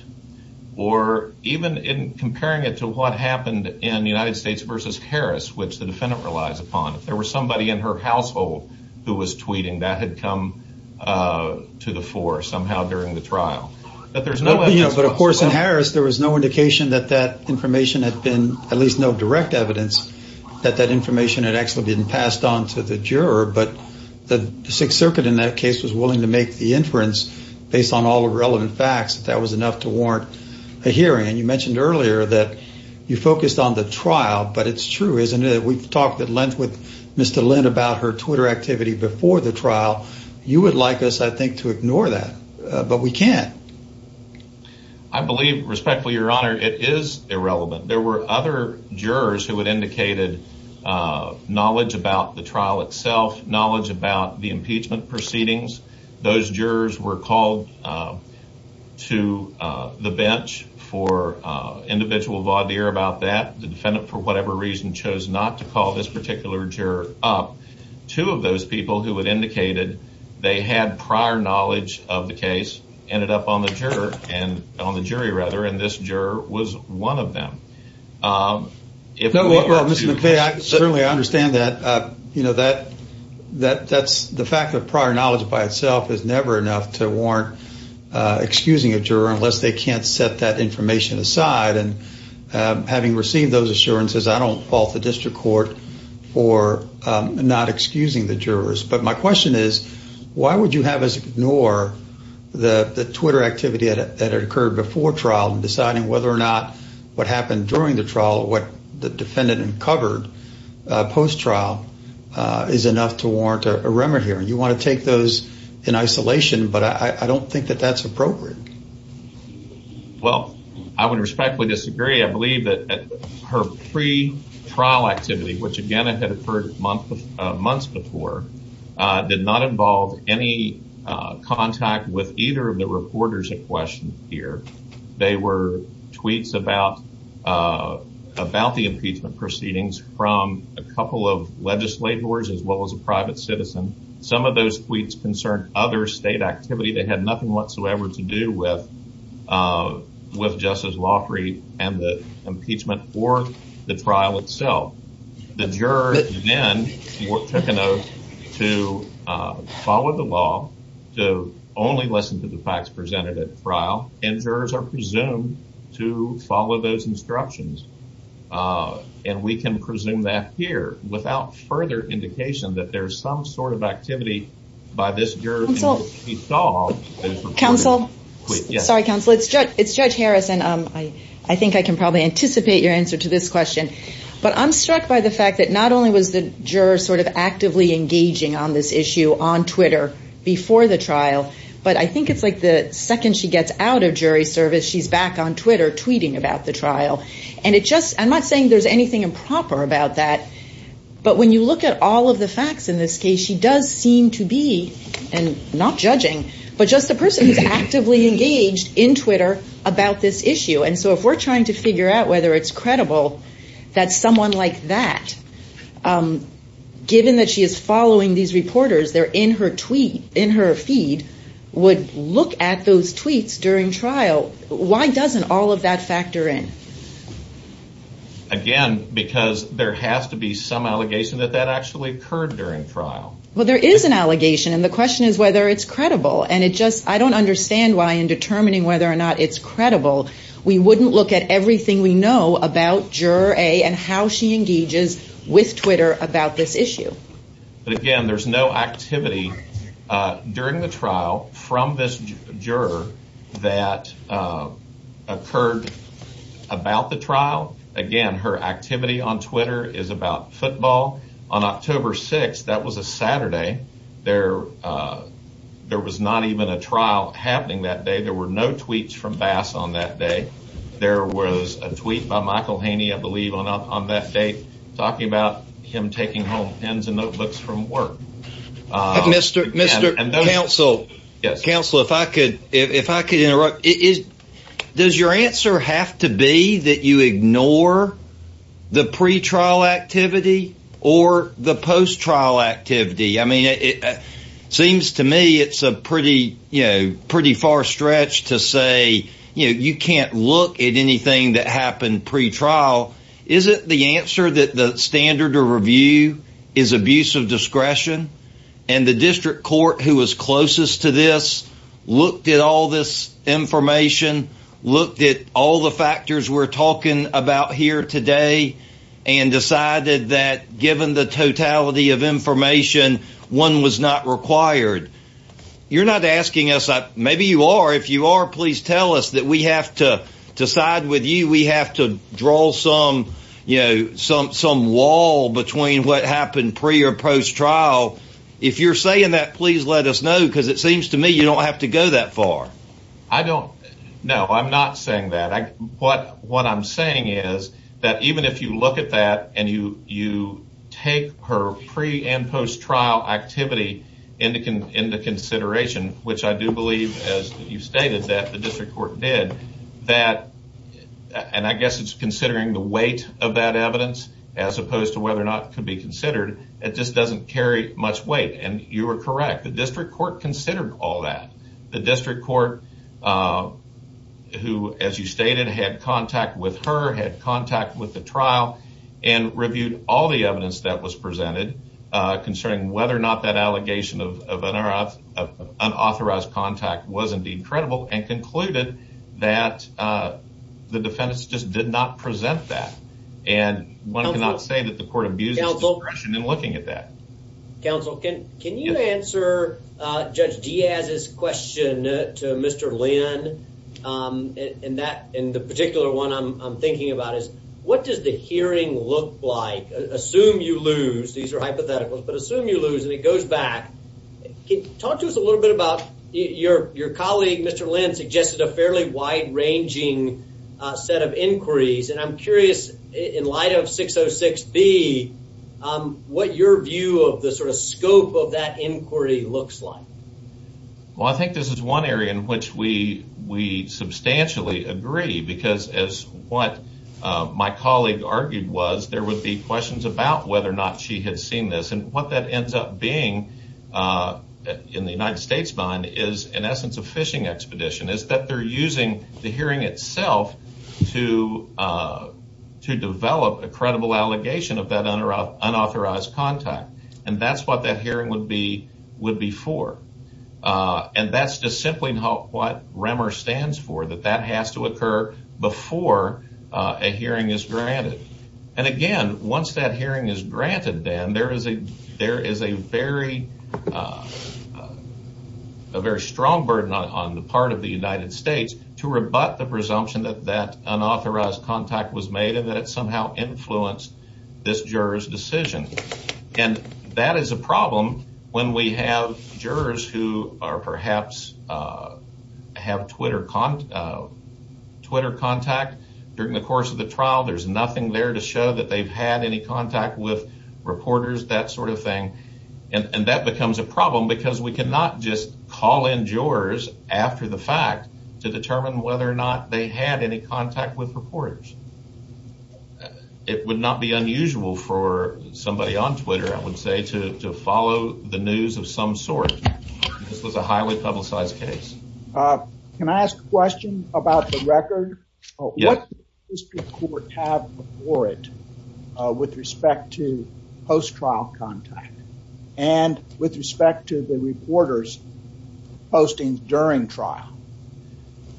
or even in comparing it to what happened in the United States versus Harris, which the defendant relies upon, there was somebody in her household who was tweeting that had come to the fore somehow during the trial. But of course, in Harris, there was no indication that that information had been, at least no direct evidence, that that information had actually been passed on to the juror. But the Sixth Circuit in that case was willing to make the inference, based on all the relevant facts, that that was enough to warrant a hearing. You mentioned earlier that you focused on the trial, but it's true, isn't it? We talked at length with Mr. Lind about her Twitter activity before the trial. You would like us, I think, to ignore that, but we can't. I believe, respectfully, Your Honor, it is irrelevant. There were other jurors who had indicated knowledge about the trial itself, knowledge about the impeachment proceedings. Those jurors were called to the bench for individual lawdeer about that. The defendant, for whatever reason, chose not to call this particular juror up. Two of those people who had indicated they had prior knowledge of the case ended up on the jury, and this juror was one of them. No, Mr. McVeigh, certainly I understand that. You know, the fact that prior knowledge by itself is never enough to warrant excusing a juror unless they can't set that information aside. And having received those assurances, I don't fault the district court for not excusing the jurors. But my question is, why would you have us ignore the Twitter activity that had occurred before trial and deciding whether or not what happened during the trial or what the defendant uncovered post-trial is enough to warrant a remedy? You want to take those in isolation, but I don't think that that's appropriate. Well, I would respectfully disagree. I believe that her pre-trial activity, which, again, had occurred months before, did not involve any contact with either of the reporters in question here. They were tweets about the impeachment proceedings from a couple of legislators as well as a private citizen. Some of those tweets concerned other state activity that had nothing whatsoever to do with Justice Lafrey and the impeachment or the trial itself. The jurors, again, were quick enough to follow the law, to only listen to the facts presented at trial, and jurors are presumed to follow those instructions, and we can presume that here. Without further indication that there's some sort of activity by this juror to be solved. Counsel? Yes. Sorry, Counsel. It's Judge Harrison. I think I can probably anticipate your answer to this question. But I'm struck by the fact that not only was the juror sort of actively engaging on this issue on Twitter before the trial, but I think it's like the second she gets out of jury service, she's back on Twitter tweeting about the trial. I'm not saying there's anything improper about that, but when you look at all of the facts in this case, she does seem to be, and not judging, but just a person who's actively engaged in Twitter about this issue. And so if we're trying to figure out whether it's credible that someone like that, given that she is following these reporters, they're in her tweet, in her feed, would look at those tweets during trial. So why doesn't all of that factor in? Again, because there has to be some allegation that that actually occurred during trial. Well, there is an allegation, and the question is whether it's credible. And it just, I don't understand why in determining whether or not it's credible, we wouldn't look at everything we know about Juror A and how she engages with Twitter about this issue. But again, there's no activity during the trial from this juror that occurred about the trial. Again, her activity on Twitter is about football. On October 6th, that was a Saturday, there was not even a trial happening that day. There were no tweets from Bass on that day. There was a tweet by Michael Haney, I believe, on that day, talking about him taking home pens and notebooks from work. Mr. Counsel, if I could interrupt, does your answer have to be that you ignore the pre-trial activity or the post-trial activity? I mean, it seems to me it's a pretty far stretch to say you can't look at anything that happened pre-trial. Is it the answer that the standard to review is abuse of discretion? And the district court, who was closest to this, looked at all this information, looked at all the factors we're talking about here today, and decided that given the totality of information, one was not required. You're not asking us, maybe you are, if you are, please tell us that we have to decide with you, we have to draw some wall between what happened pre- or post-trial. If you're saying that, please let us know, because it seems to me you don't have to go that far. No, I'm not saying that. What I'm saying is that even if you look at that and you take her pre- and post-trial activity into consideration, which I do believe, as you stated, that the district court did, and I guess it's considering the weight of that evidence as opposed to whether or not it could be considered, it just doesn't carry much weight, and you are correct. The district court considered all that. The district court, who, as you stated, had contact with her, had contact with the trial, and reviewed all the evidence that was presented, considering whether or not that allegation of unauthorized contact was indeed credible, and concluded that the defendants just did not present that. And one cannot say that the court abused it in looking at that. Counsel, can you answer Judge Diaz's question to Mr. Lynn? And the particular one I'm thinking about is, what does the hearing look like? Assume you lose. These are hypotheticals. But assume you lose, and it goes back. Talk to us a little bit about your colleague, Mr. Lynn, suggested a fairly wide-ranging set of inquiries, and I'm curious, in light of 606B, what your view of the sort of scope of that inquiry looks like. Well, I think this is one area in which we substantially agree, because as what my colleague argued was, there would be questions about whether or not she had seen this, and what that ends up being, in the United States' mind, is in essence a phishing expedition. It's that they're using the hearing itself to develop a credible allegation of that unauthorized contact, and that's what that hearing would be for. And that's just simply not what REMR stands for, that that has to occur before a hearing is granted. And again, once that hearing is granted, then, there is a very strong burden on the part of the United States to rebut the presumption that that unauthorized contact was made and that it somehow influenced this juror's decision. And that is a problem when we have jurors who perhaps have Twitter contact. During the course of the trial, there's nothing there to show that they've had any contact with reporters, that sort of thing, and that becomes a problem, because we cannot just call in jurors after the fact to determine whether or not they had any contact with reporters. It would not be unusual for somebody on Twitter, I would say, to follow the news of some sort. This was a highly publicized case. Can I ask a question about the record? Yes. What did the district court have for it with respect to post-trial contact and with respect to the reporters posting during trial?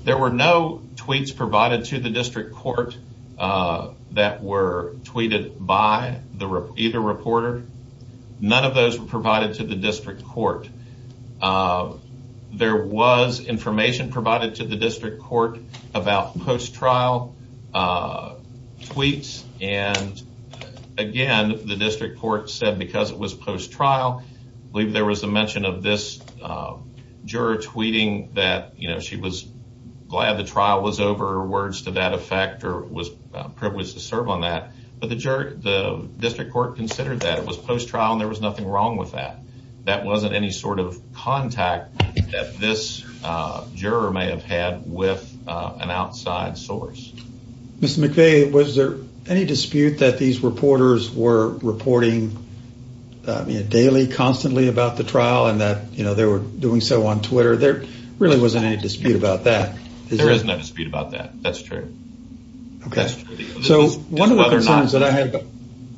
There were no tweets provided to the district court that were tweeted by either reporter. None of those were provided to the district court. There was information provided to the district court about post-trial tweets, and again, the district court said because it was post-trial, I believe there was a mention of this juror tweeting that she was glad the trial was over, or words to that effect, or was privileged to serve on that, but the district court considered that it was post-trial and there was nothing wrong with that. That wasn't any sort of contact that this juror may have had with an outside source. Mr. McVeigh, was there any dispute that these reporters were reporting daily, constantly, about the trial and that they were doing so on Twitter? There really wasn't any dispute about that. There is no dispute about that. That's true. Okay. So one of the other things that I have...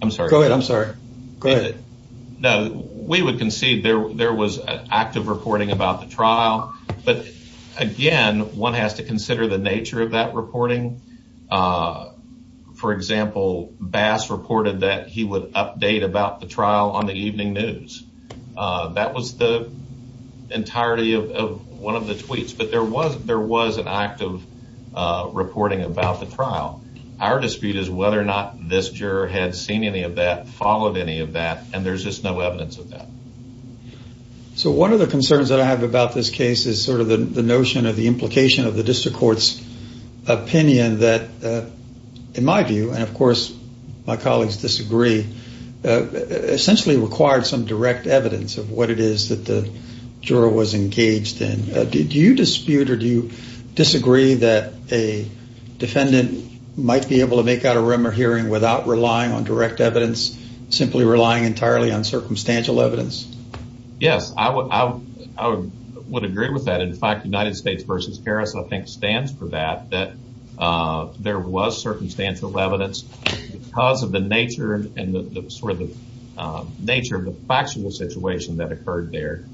I'm sorry. Go ahead. I'm sorry. Go ahead. We would concede there was active reporting about the trial, but again, one has to consider the nature of that reporting. For example, Bass reported that he would update about the trial on the evening news. That was the entirety of one of the tweets, but there was an active reporting about the trial. Our dispute is whether or not this juror had seen any of that, followed any of that, and there's just no evidence of that. So one of the concerns that I have about this case is sort of the notion of the implication of the district court's opinion that, in my view, and of course my colleagues disagree, essentially required some direct evidence of what it is that the juror was engaged in. Do you dispute or do you disagree that a defendant might be able to make out a rumor hearing without relying on direct evidence, simply relying entirely on circumstantial evidence? Yes. I would agree with that. In fact, United States v. Harris, I think, stands for that, that there was circumstantial evidence. Because of the nature and sort of the nature of the factual situation that occurred there,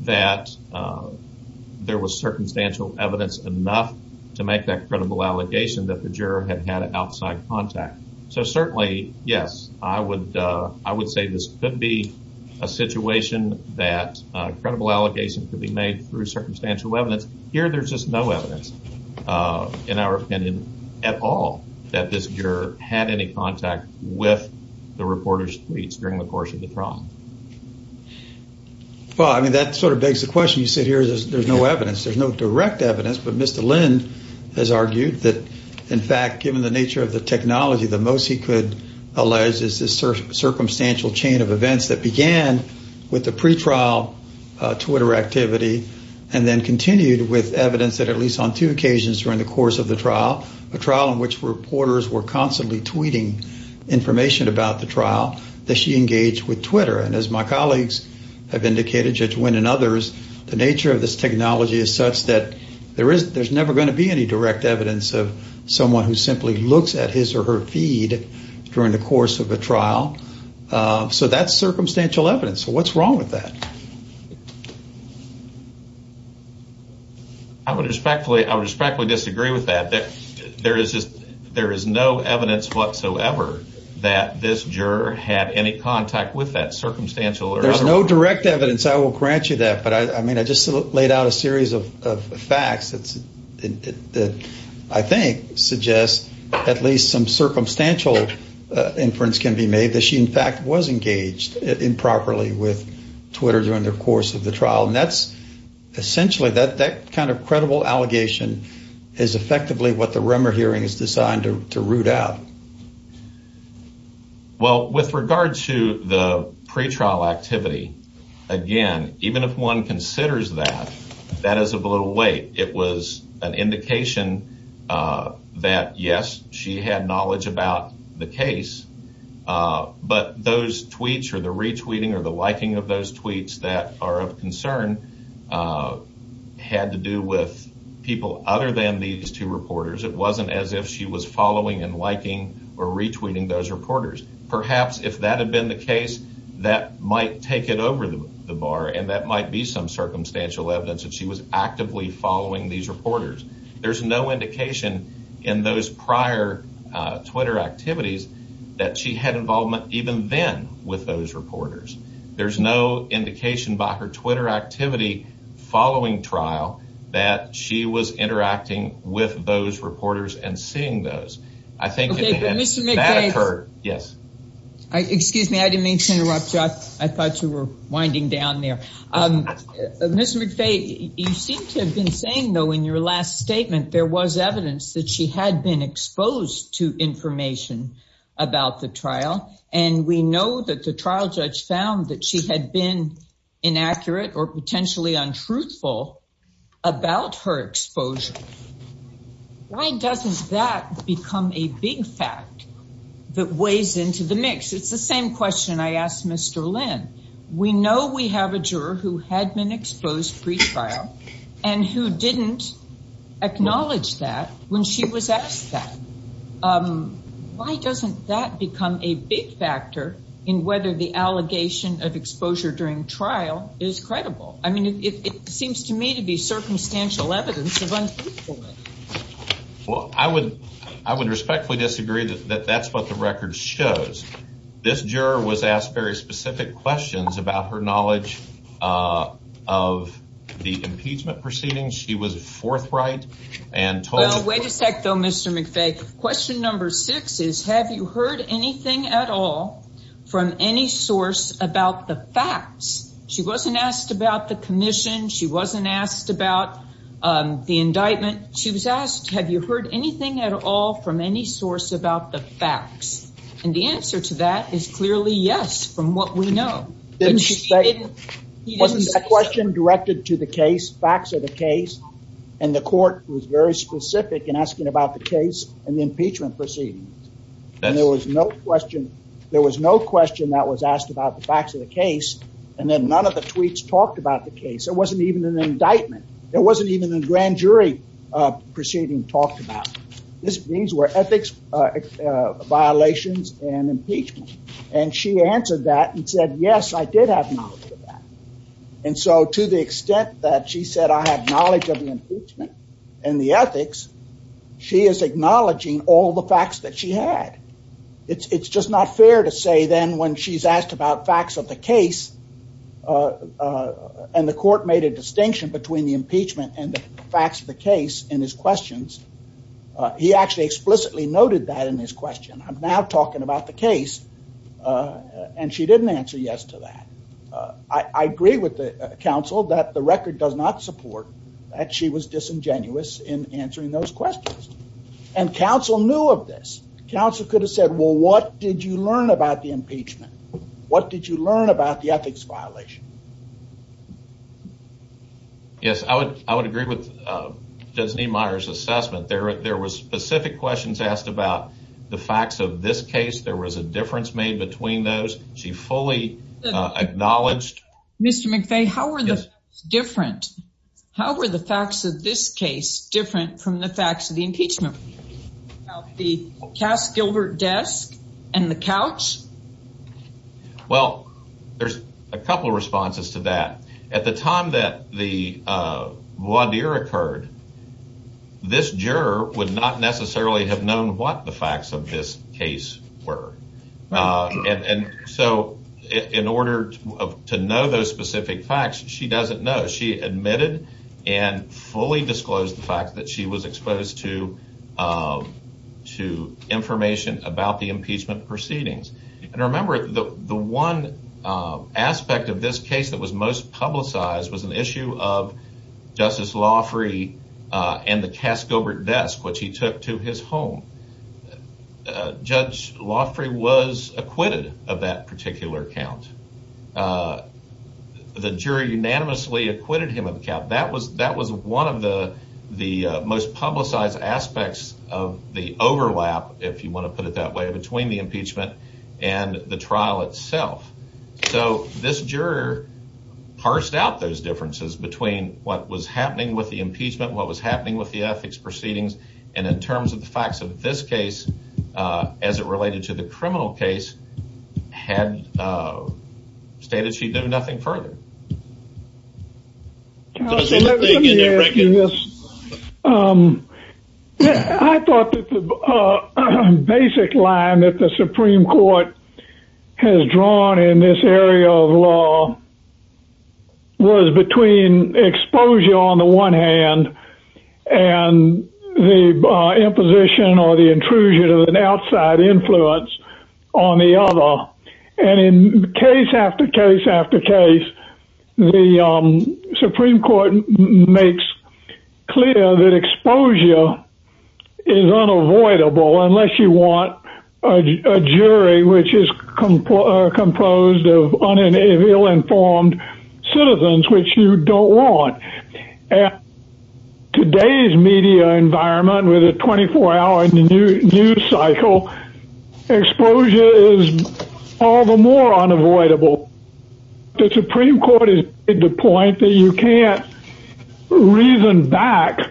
that there was circumstantial evidence enough to make that credible allegation that the juror had had an outside contact. So certainly, yes, I would say this could be a situation that credible allegations could be made through circumstantial evidence. But here there's just no evidence in our opinion at all that this juror had any contact with the reporter's tweets during the course of the trial. Well, I mean, that sort of begs the question. You said here there's no evidence. There's no direct evidence, but Mr. Lynn has argued that, in fact, given the nature of the technology, the most he could allege is this circumstantial chain of events that began with the pretrial Twitter activity and then continued with evidence that at least on two occasions during the course of the trial, the trial in which reporters were constantly tweeting information about the trial, that she engaged with Twitter. And as my colleagues have indicated, Judge Wynn and others, the nature of this technology is such that there's never going to be any direct evidence of someone who simply looks at his or her feed during the course of the trial. So that's circumstantial evidence. So what's wrong with that? I would respectfully disagree with that. There is no evidence whatsoever that this juror had any contact with that circumstantial. There's no direct evidence. I will grant you that. But, I mean, I just laid out a series of facts that I think suggest at least some circumstantial inference can be made that she, in fact, was engaged improperly with Twitter during the course of the trial. And that's essentially that kind of credible allegation is effectively what the Remmer hearing is designed to root out. Well, with regard to the pretrial activity, again, even if one considers that, that is a little late. It was an indication that, yes, she had knowledge about the case, but those tweets or the retweeting or the liking of those tweets that are of concern had to do with people other than these two reporters. It wasn't as if she was following and liking or retweeting those reporters. Perhaps if that had been the case, that might take it over the bar, and that might be some circumstantial evidence that she was actively following these reporters. There's no indication in those prior Twitter activities that she had involvement even then with those reporters. There's no indication by her Twitter activity following trial that she was interacting with those reporters and seeing those. I think if that occurred, yes. Excuse me. I didn't mean to interrupt you. I thought you were winding down there. Mr. McVeigh, you seem to have been saying, though, in your last statement there was evidence that she had been exposed to information about the trial. And we know that the trial judge found that she had been inaccurate or potentially untruthful about her exposure. Why doesn't that become a big fact that weighs into the mix? It's the same question I asked Mr. Lynn. We know we have a juror who had been exposed pre-trial and who didn't acknowledge that when she was at the trial. Why doesn't that become a big factor in whether the allegation of exposure during trial is credible? I mean, it seems to me to be circumstantial evidence of untruthfulness. Well, I would respectfully disagree that that's what the record shows. This juror was asked very specific questions about her knowledge of the impeachment proceedings. She was forthright. Wait a sec, though, Mr. McVeigh. Question number six is, have you heard anything at all from any source about the facts? She wasn't asked about the commission. She wasn't asked about the indictment. She was asked, have you heard anything at all from any source about the facts? And the answer to that is clearly yes, from what we know. Wasn't that question directed to the case, facts of the case? And the court was very specific in asking about the case and the impeachment proceedings. And there was no question. There was no question that was asked about the facts of the case. And then none of the tweets talked about the case. It wasn't even an indictment. It wasn't even a grand jury proceeding talked about. These were ethics violations and impeachment. And she answered that and said, yes, I did have knowledge of that. And so to the extent that she said I have knowledge of the impeachment and the ethics, she is acknowledging all the facts that she had. It's just not fair to say then when she's asked about facts of the case and the court made a distinction between the impeachment and the facts of the case in his questions. He actually explicitly noted that in his question. I'm now talking about the case. And she didn't answer yes to that. I agree with the counsel that the record does not support that she was disingenuous in answering those questions. And counsel knew of this. Counsel could have said, well, what did you learn about the impeachment? What did you learn about the ethics violation? Yes, I would. I agree with the assessment. There were specific questions asked about the facts of this case. There was a difference made between those. She fully acknowledged. Mr. McVeigh, how are the facts different? How are the facts of this case different from the facts of the impeachment? The task of her desk and the couch? Well, there's a couple of responses to that. At the time that the blood beer occurred, this juror would not necessarily have known what the facts of this case were. And so in order to know those specific facts, she doesn't know. She admitted and fully disclosed the fact that she was exposed to information about the impeachment proceedings. And remember, the one aspect of this case that was most publicized was an issue of Justice Loffrey and the cast over desk, which he took to his home. Judge Loffrey was acquitted of that particular count. The jury unanimously acquitted him of the count. That was one of the most publicized aspects of the overlap, if you want to put it that way, between the impeachment and the trial itself. So this juror parsed out those differences between what was happening with the impeachment and what was happening with the ethics proceedings. And in terms of the facts of this case, as it related to the criminal case, had stated she knew nothing further. Counsel, let me ask you this. I thought that the basic line that the Supreme Court has drawn in this area of law was between exposure on the one hand and the imposition or the intrusion of an outside influence on the other. And in case after case after case, the Supreme Court makes clear that exposure is unavoidable unless you want a jury which is composed of uninformed citizens, which you don't want. Today's media environment with a 24-hour news cycle, exposure is all the more unavoidable. The Supreme Court has made the point that you can't reason back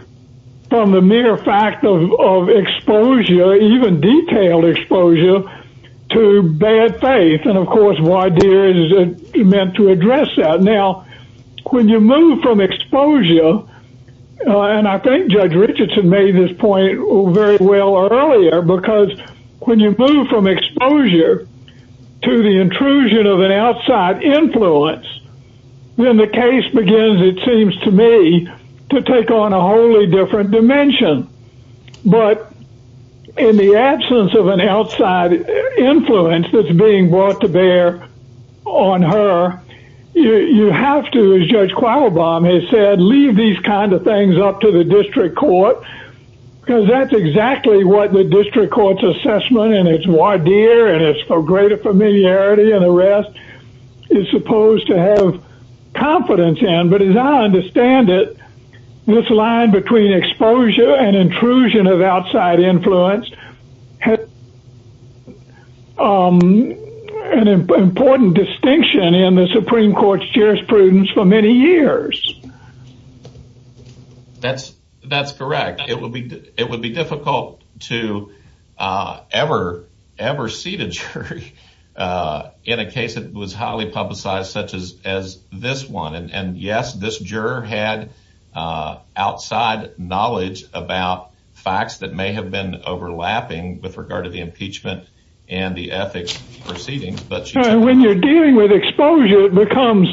from the mere fact of exposure, even detailed exposure, to bad faith. And of course, why is it meant to address that? Now, when you move from exposure, and I think Judge Richardson made this point very well earlier, because when you move from exposure to the intrusion of an outside influence, then the case begins, it seems to me, to take on a wholly different dimension. But in the absence of an outside influence that's being brought to bear on her, you have to, as Judge Qualbaum has said, leave these kind of things up to the district court, because that's exactly what the district court's assessment and its voir dire and its greater familiarity and arrest is supposed to have confidence in. But as I understand it, this line between exposure and intrusion of outside influence has an important distinction in the Supreme Court's jurisprudence for many years. That's correct. It would be difficult to ever see the jury in a case that was highly publicized such as this one. And yes, this juror had outside knowledge about facts that may have been overlapping with regard to the impeachment and the ethics proceedings. And when you're dealing with exposure, it becomes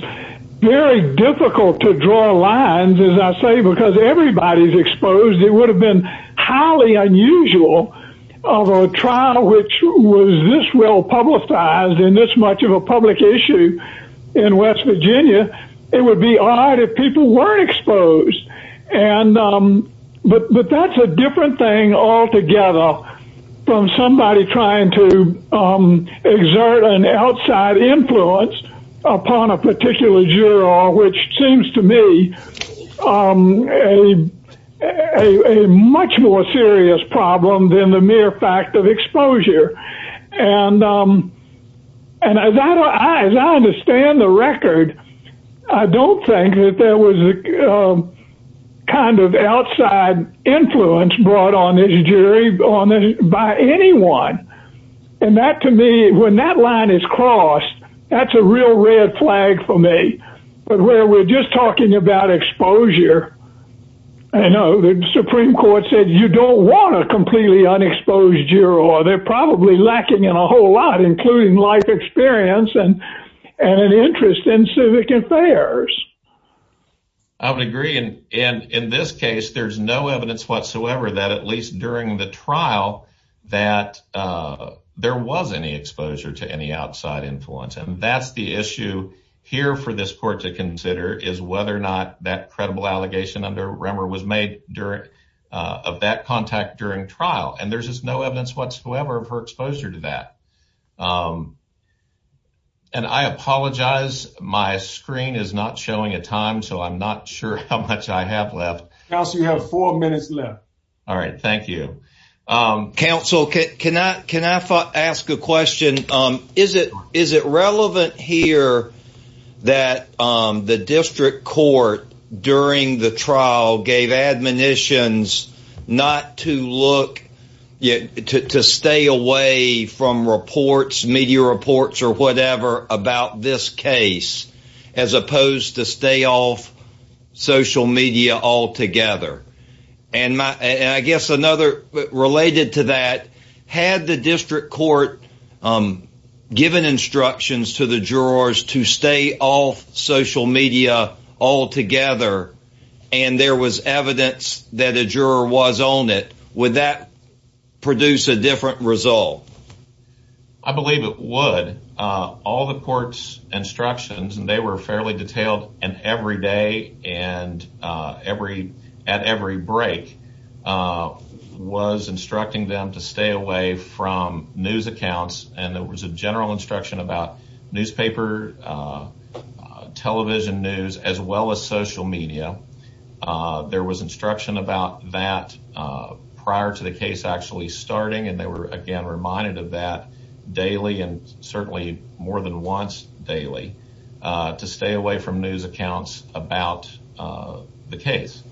very difficult to draw lines, as I say, because everybody's exposed. It would have been highly unusual of a trial which was this well-publicized in this much of a public issue in West Virginia. It would be odd if people were exposed. But that's a different thing altogether from somebody trying to exert an outside influence upon a particular juror, which seems to me a much more serious problem than the mere fact of exposure. And as I understand the record, I don't think that there was a kind of outside influence brought on this jury by anyone. And that to me, when that line is crossed, that's a real red flag for me. But where we're just talking about exposure, I know the Supreme Court said you don't want a completely unexposed juror. They're probably lacking in a whole lot, including life experience and an interest in civic affairs. I would agree. And in this case, there's no evidence whatsoever that, at least during the trial, that there was any exposure to any outside influence. And that's the issue here for this court to consider, is whether or not that credible allegation under Remmer was made of that contact during trial. And there's just no evidence whatsoever of her exposure to that. And I apologize, my screen is not showing a time, so I'm not sure how much I have left. Counsel, you have four minutes left. All right, thank you. Counsel, can I ask a question? Is it relevant here that the district court during the trial gave admonitions not to look, to stay away from reports, media reports or whatever, about this case, as opposed to stay off social media altogether? And I guess another related to that, had the district court given instructions to the jurors to stay off social media altogether, and there was evidence that a juror was on it, would that produce a different result? I believe it would. All the court's instructions, and they were fairly detailed, and every day and at every break, was instructing them to stay away from news accounts. And there was a general instruction about newspaper, television news, as well as social media. There was instruction about that prior to the case actually starting, and they were, again, reminded of that daily, and certainly more than once daily, to stay away from news accounts about the case.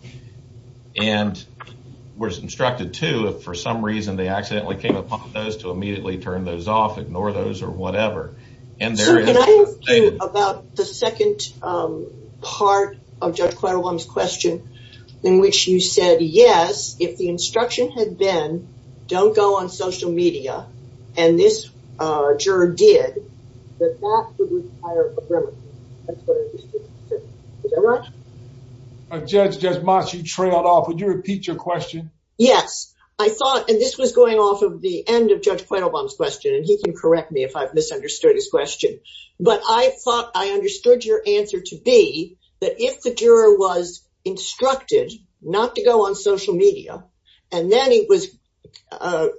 And it was instructed, too, if for some reason they accidentally came upon those, to immediately turn those off, ignore those, or whatever. Can I ask you about the second part of Judge Quetelbaum's question, in which you said, yes, if the instruction had been, don't go on social media, and this juror did, would that produce a different result? Is that right? Judge Mosk, you trailed off. Could you repeat your question? Yes. I thought, and this was going off of the end of Judge Quetelbaum's question, and he can correct me if I've misunderstood his question. But I thought I understood your answer to be that if the juror was instructed not to go on social media, and then it was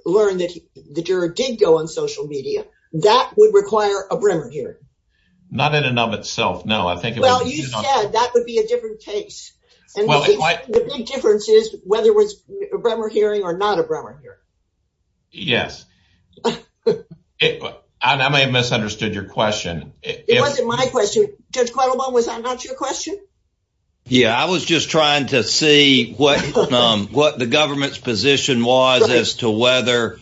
learned that the juror did go on social media, that would require a bribery hearing. Not in and of itself, no. Well, you said that would be a different case. The big difference is whether it was a bribery hearing or not a bribery hearing. Yes. I may have misunderstood your question. It wasn't my question. Judge Quetelbaum, was that not your question? Yes, I was just trying to see what the government's position was as to whether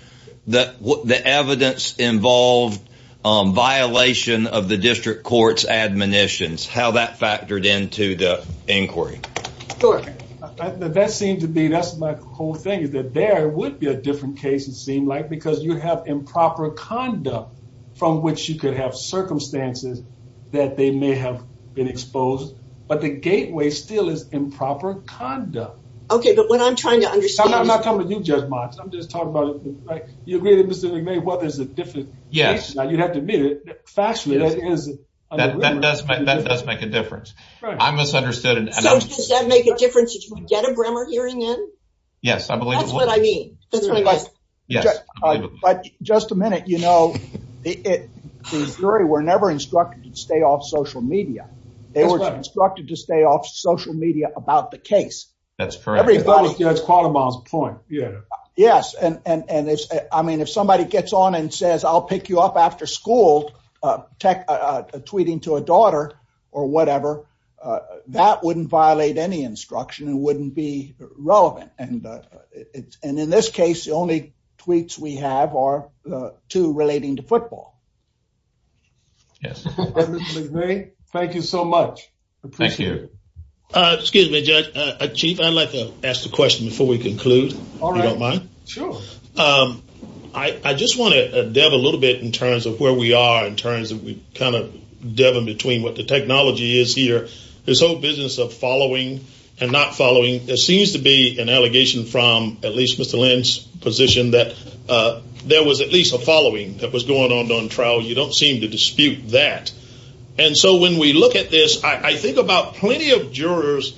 the evidence involved violation of the district court's admonitions, how that factored into the inquiry. That seems to be, that's my whole thing, that there would be a different case, it seems like, because you have improper conduct from which you could have circumstances that they may have been exposed. But the gateway still is improper conduct. Okay, but what I'm trying to understand I'm not coming to you, Judge Mosk. I'm just talking about, you're really misunderstanding whether it's a different case. Yes. Now, you'd have to admit it. That does make a difference. Does that make a difference if you get a bribery hearing in? Yes, I believe it would. That's what I mean. But just a minute, you know, the jury were never instructed to stay off social media. They were instructed to stay off social media about the case. That's correct. That's Judge Quetelbaum's point. Yes, and I mean, if somebody gets on and says, I'll pick you up after school tweeting to a daughter or whatever, that wouldn't violate any instruction and wouldn't be relevant. And in this case, the only tweets we have are two relating to football. Thank you so much. Thank you. Excuse me, Chief, I'd like to ask a question before we conclude, if you don't mind. Sure. I just want to delve a little bit in terms of where we are in terms of kind of delving between what the technology is here. This whole business of following and not following, there seems to be an allegation from at least Mr. Lynn's position that there was at least a following that was going on during trial. You don't seem to dispute that. And so when we look at this, I think about plenty of jurors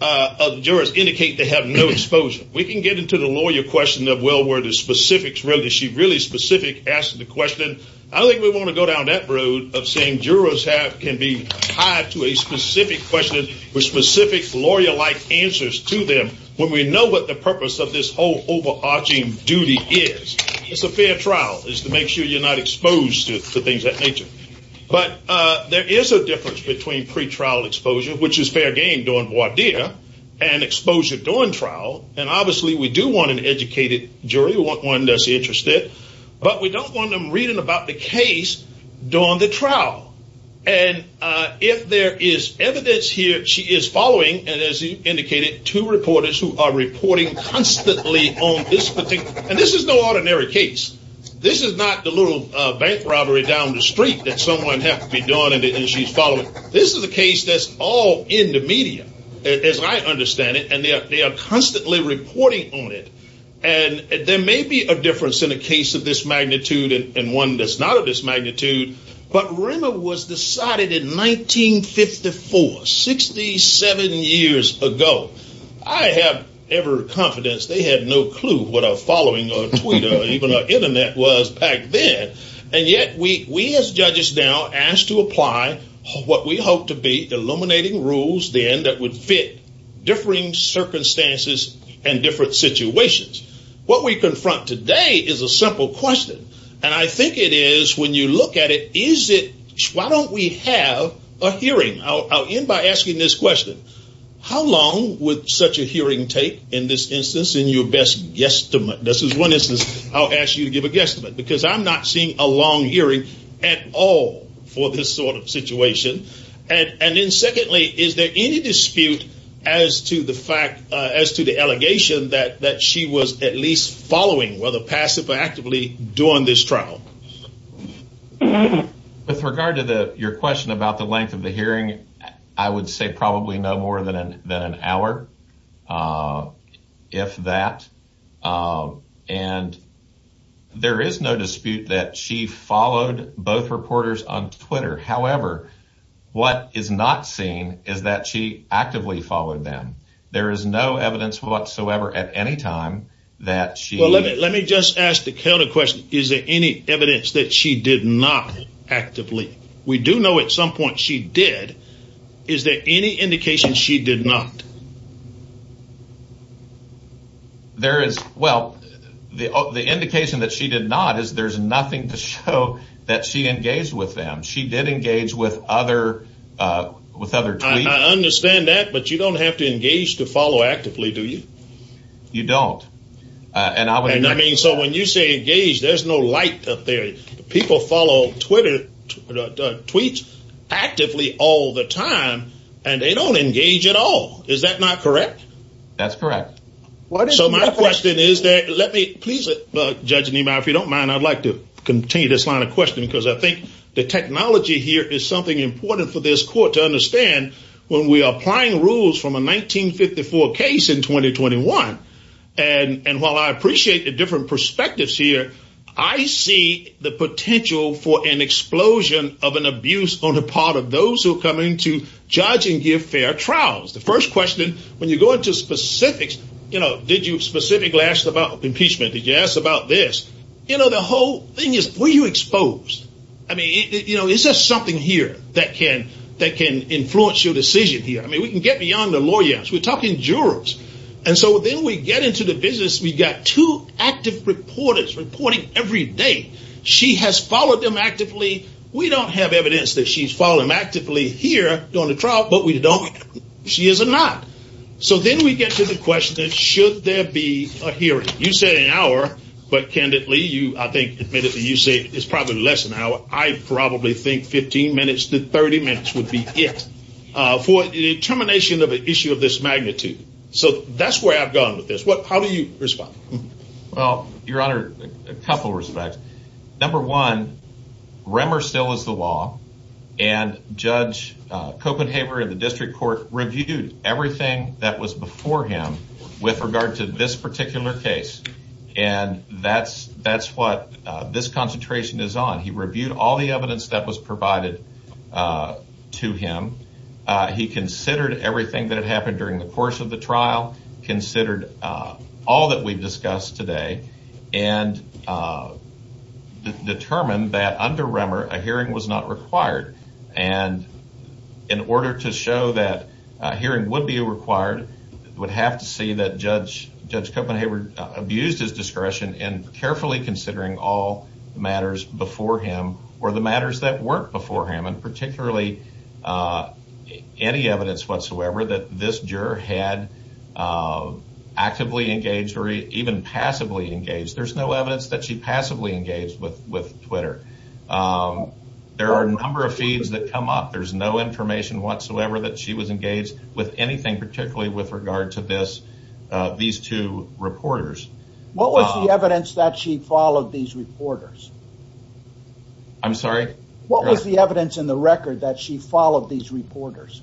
indicate they have no exposure. We can get into the lawyer question that well where the specifics, whether she really specifically asked the question. I don't think we want to go down that road of saying jurors can be tied to a specific question with specific lawyer-like answers to them when we know what the purpose of this whole overarching duty is. It's a fair trial. It's to make sure you're not exposed to things of that nature. But there is a difference between pretrial exposure, which is fair game during voir dire, and exposure during trial. And obviously we do want an educated jury, one that's interested. But we don't want them reading about the case during the trial. And if there is evidence here, she is following, and as you indicated, two reporters who are reporting constantly on this particular case. And this is no ordinary case. This is not the little bank robbery down the street that someone has to be doing and she's following. This is a case that's all in the media, as I understand it, and they are constantly reporting on it. And there may be a difference in a case of this magnitude and one that's not of this magnitude, but Rimmel was decided in 1954, 67 years ago. I have every confidence they had no clue what our following on Twitter and even our Internet was back then. And yet we as judges now ask to apply what we hope to be illuminating rules then that would fit differing circumstances and different situations. What we confront today is a simple question. And I think it is when you look at it, why don't we have a hearing? I'll end by asking this question. How long would such a hearing take in this instance in your best guesstimate? This is one instance I'll ask you to give a guesstimate because I'm not seeing a long hearing at all for this sort of situation. And then secondly, is there any dispute as to the fact, as to the allegation that she was at least following, whether passive or actively, during this trial? With regard to your question about the length of the hearing, I would say probably no more than an hour, if that. And there is no dispute that she followed both reporters on Twitter. However, what is not seen is that she actively followed them. There is no evidence whatsoever at any time that she... Let me just ask the counter question. Is there any evidence that she did not actively? We do know at some point she did. Is there any indication she did not? Well, the indication that she did not is there's nothing to show that she engaged with them. She did engage with other... I understand that, but you don't have to engage to follow actively, do you? You don't. And I mean, so when you say engaged, there's no light up there. People follow Twitter tweets actively all the time, and they don't engage at all. Is that not correct? That's correct. So my question is that, let me... Please, Judge Niemeyer, if you don't mind, I'd like to continue this line of questioning because I think the technology here is something important for this court to understand. When we are applying rules from a 1954 case in 2021, and while I appreciate the different perspectives here, I see the potential for an explosion of an abuse on the part of those who are coming to judge and give fair trials. The first question, when you go into specifics, you know, did you specifically ask about impeachment? Did you ask about this? You know, the whole thing is, were you exposed? I mean, you know, is there something here that can influence your decision here? I mean, we can get beyond the lawyer. We're talking jurors. And so then we get into the business. We've got two active reporters reporting every day. She has followed them actively. We don't have evidence that she's followed them actively here during the trial, but we don't. She is or not. So then we get to the question, should there be a hearing? You say an hour, but candidly, I think, admittedly, you say it's probably less than an hour. I probably think 15 minutes to 30 minutes would be it for the termination of an issue of this magnitude. So that's where I've gone with this. How do you respond? Well, Your Honor, a couple of respects. Number one, Remmer still is the law, and Judge Copenhaver in the district court reviewed everything that was before him with regard to this particular case. And that's what this concentration is on. He reviewed all the evidence that was provided to him. He considered everything that happened during the course of the trial, considered all that we've discussed today. And determined that under Remmer, a hearing was not required. And in order to show that a hearing would be required, we'd have to see that Judge Copenhaver abused his discretion in carefully considering all matters before him or the matters that weren't before him, particularly any evidence whatsoever that this juror had actively engaged or even passively engaged. There's no evidence that she passively engaged with Twitter. There are a number of feeds that come up. There's no information whatsoever that she was engaged with anything, particularly with regard to these two reporters. What was the evidence that she followed these reporters? I'm sorry? What was the evidence in the record that she followed these reporters?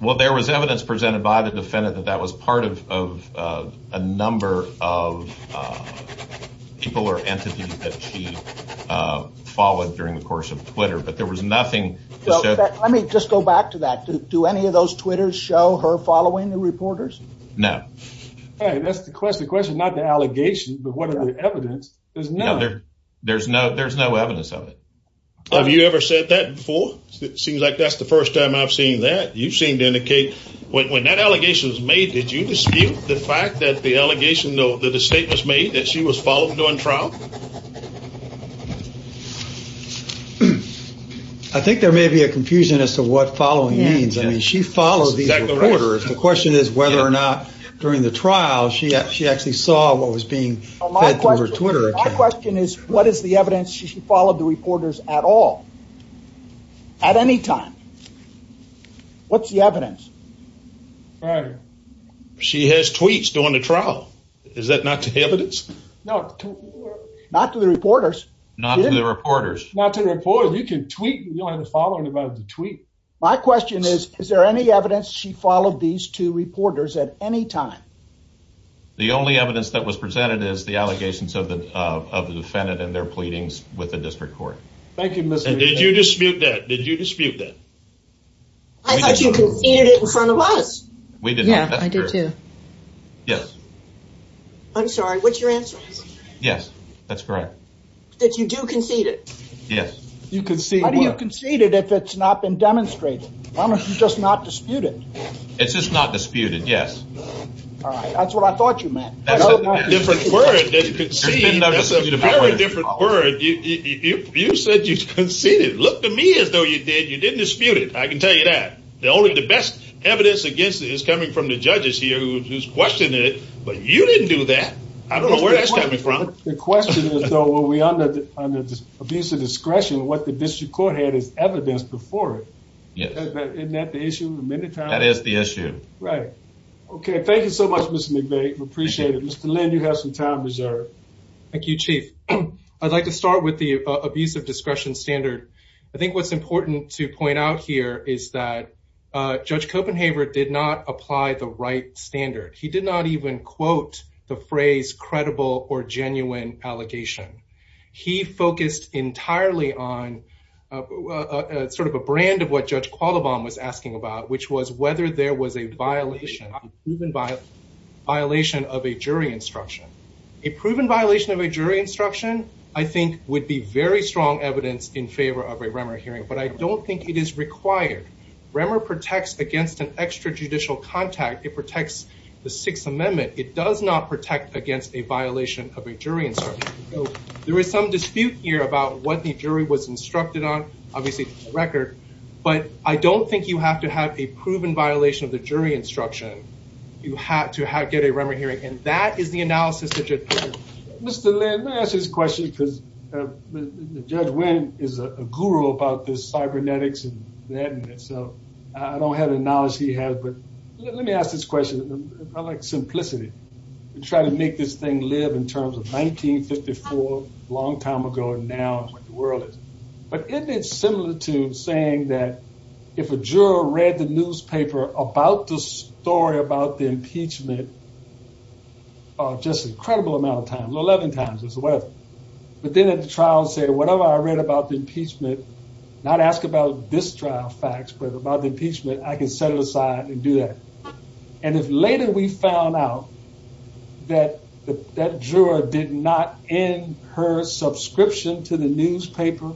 Well, there was evidence presented by the defendant that that was part of a number of people or entities that she followed during the course of Twitter. But there was nothing... Let me just go back to that. Do any of those Twitters show her following the reporters? No. Hey, that's the question. The question's not the allegation, but what is the evidence? There's none. There's no evidence of it. Have you ever said that before? It seems like that's the first time I've seen that. You seem to indicate when that allegation was made, did you dispute the fact that the allegation or the statement was made that she was followed during trial? I think there may be a confusion as to what following means. I mean, she follows these reporters. The question is whether or not during the trial she actually saw what was being said through her Twitter account. My question is what is the evidence she followed the reporters at all, at any time? What's the evidence? She has tweets during the trial. Is that not the evidence? No. Not to the reporters. Not to the reporters. Not to the reporters. You can tweet, but you don't have the following about the tweet. My question is, is there any evidence she followed these two reporters at any time? The only evidence that was presented is the allegations of the defendant and their pleadings with the district court. Thank you, Mr. Chairman. Did you dispute that? Did you dispute that? I thought you conceded it in front of us. We did not. Yeah, I did too. Yes. I'm sorry, what's your answer? Yes, that's correct. That you do concede it? Yes. You conceded it. You conceded it if it's not been demonstrated. How much is just not disputed? It's just not disputed, yes. That's what I thought you meant. That's a different word than conceded. That's a very different word. You said you conceded. Look to me as though you did. You didn't dispute it. I can tell you that. Only the best evidence against it is coming from the judges here who questioned it, but you didn't do that. I don't know where that's coming from. The question is, though, on the abuse of discretion, what the district court had as evidence before it. Yes. Isn't that the issue? That is the issue. Right. Okay, thank you so much, Mr. McVeigh. We appreciate it. Mr. Lynn, you have some time reserved. Thank you, Chief. I'd like to start with the abuse of discretion standard. I think what's important to point out here is that Judge Copenhaver did not apply the right standard. He did not even quote the phrase credible or genuine allegation. He focused entirely on sort of a brand of what Judge Qualibon was asking about, which was whether there was a violation, a proven violation of a jury instruction. A proven violation of a jury instruction, I think, would be very strong evidence in favor of a Remmer hearing, but I don't think it is required. Remmer protects against an extrajudicial contact. It protects the Sixth Amendment. It does not protect against a violation of a jury instruction. So there is some dispute here about what the jury was instructed on. Obviously, it's a record, but I don't think you have to have a proven violation of a jury instruction to get a Remmer hearing, and that is the analysis that Judge Copenhaver did. Mr. Lynn, let me ask you this question, because Judge Wynn is a guru about the cybernetics and the evidence, so I don't have the knowledge he has, but let me ask this question. I like simplicity. He tried to make this thing live in terms of 1954, a long time ago, and now the world is. But isn't it similitude saying that if a juror read the newspaper about the story about the impeachment just an incredible amount of times, 11 times or whatever, but then at the trial said, whatever I read about the impeachment, not ask about this trial facts, but about the impeachment, I can set it aside and do that. And if later we found out that that juror did not end her subscription to the newspaper,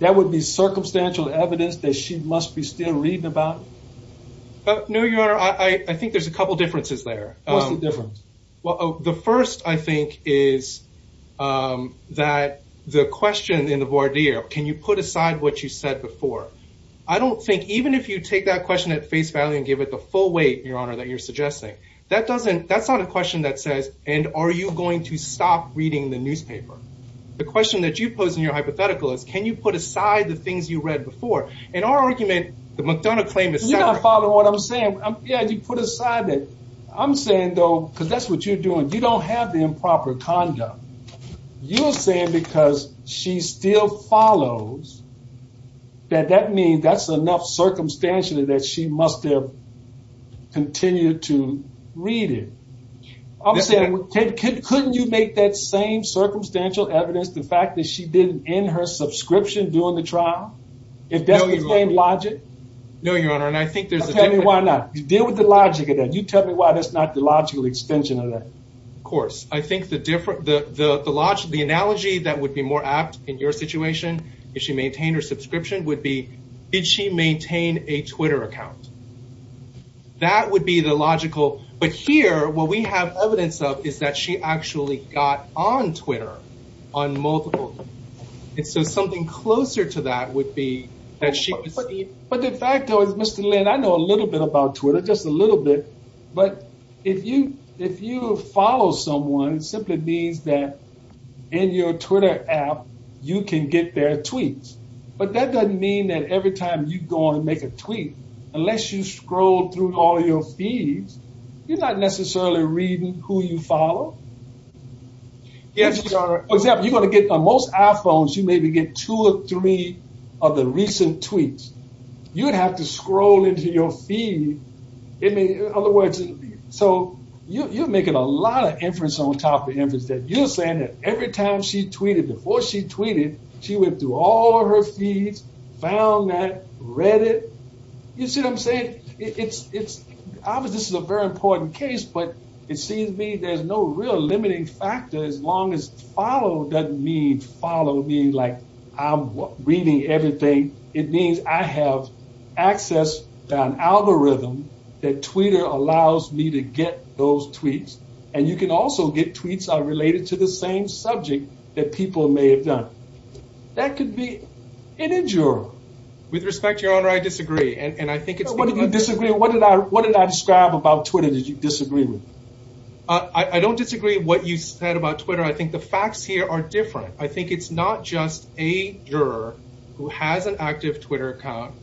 that would be circumstantial evidence that she must be still reading about it? No, Your Honor, I think there's a couple differences there. What's the difference? Well, the first, I think, is that the question in the voir dire, can you put aside what you said before? I don't think, even if you take that question at face value and give it the full weight, Your Honor, that you're suggesting, that's not a question that says, and are you going to stop reading the newspaper? The question that you pose in your hypothetical is, can you put aside the things you read before? You don't follow what I'm saying. You put aside that. I'm saying, though, because that's what you're doing. You don't have the improper conduct. You're saying because she still follows, that that means that's enough circumstantial that she must have continued to read it. I'm saying, couldn't you make that same circumstantial evidence, the fact that she didn't end her subscription during the trial? No, Your Honor. It doesn't make logic? No, Your Honor, and I think there's a difference. Okay, then why not? Deal with the logic of that. You tell me why that's not the logical extension of that. Of course. I think the analogy that would be more apt in your situation, if she maintained her subscription, would be, did she maintain a Twitter account? That would be the logical. But here, what we have evidence of is that she actually got on Twitter on multiple. So something closer to that would be that she... But the fact, though, is, Mr. Lynn, I know a little bit about Twitter, just a little bit, but if you follow someone, it simply means that in your Twitter app, you can get their tweets. But that doesn't mean that every time you go and make a tweet, unless you scroll through all your feeds, you're not necessarily reading who you follow. For example, you're going to get, on most iPhones, you maybe get two or three of the recent tweets. You would have to scroll into your feed. In other words, so you're making a lot of inference on top of inference that you're saying that every time she tweeted, before she tweeted, she went through all her feeds, found that, read it. You see what I'm saying? Obviously, this is a very important case, but it seems to me there's no real limiting factor as long as follow doesn't mean follow me like I'm reading everything. It means I have access to an algorithm that Twitter allows me to get those tweets, and you can also get tweets that are related to the same subject that people may have done. That could be an injure. With respect, Your Honor, I disagree, and I think it's... What did I describe about Twitter that you disagree with? I don't disagree with what you said about Twitter. I think the facts here are different. I think it's not just a juror who has an active Twitter account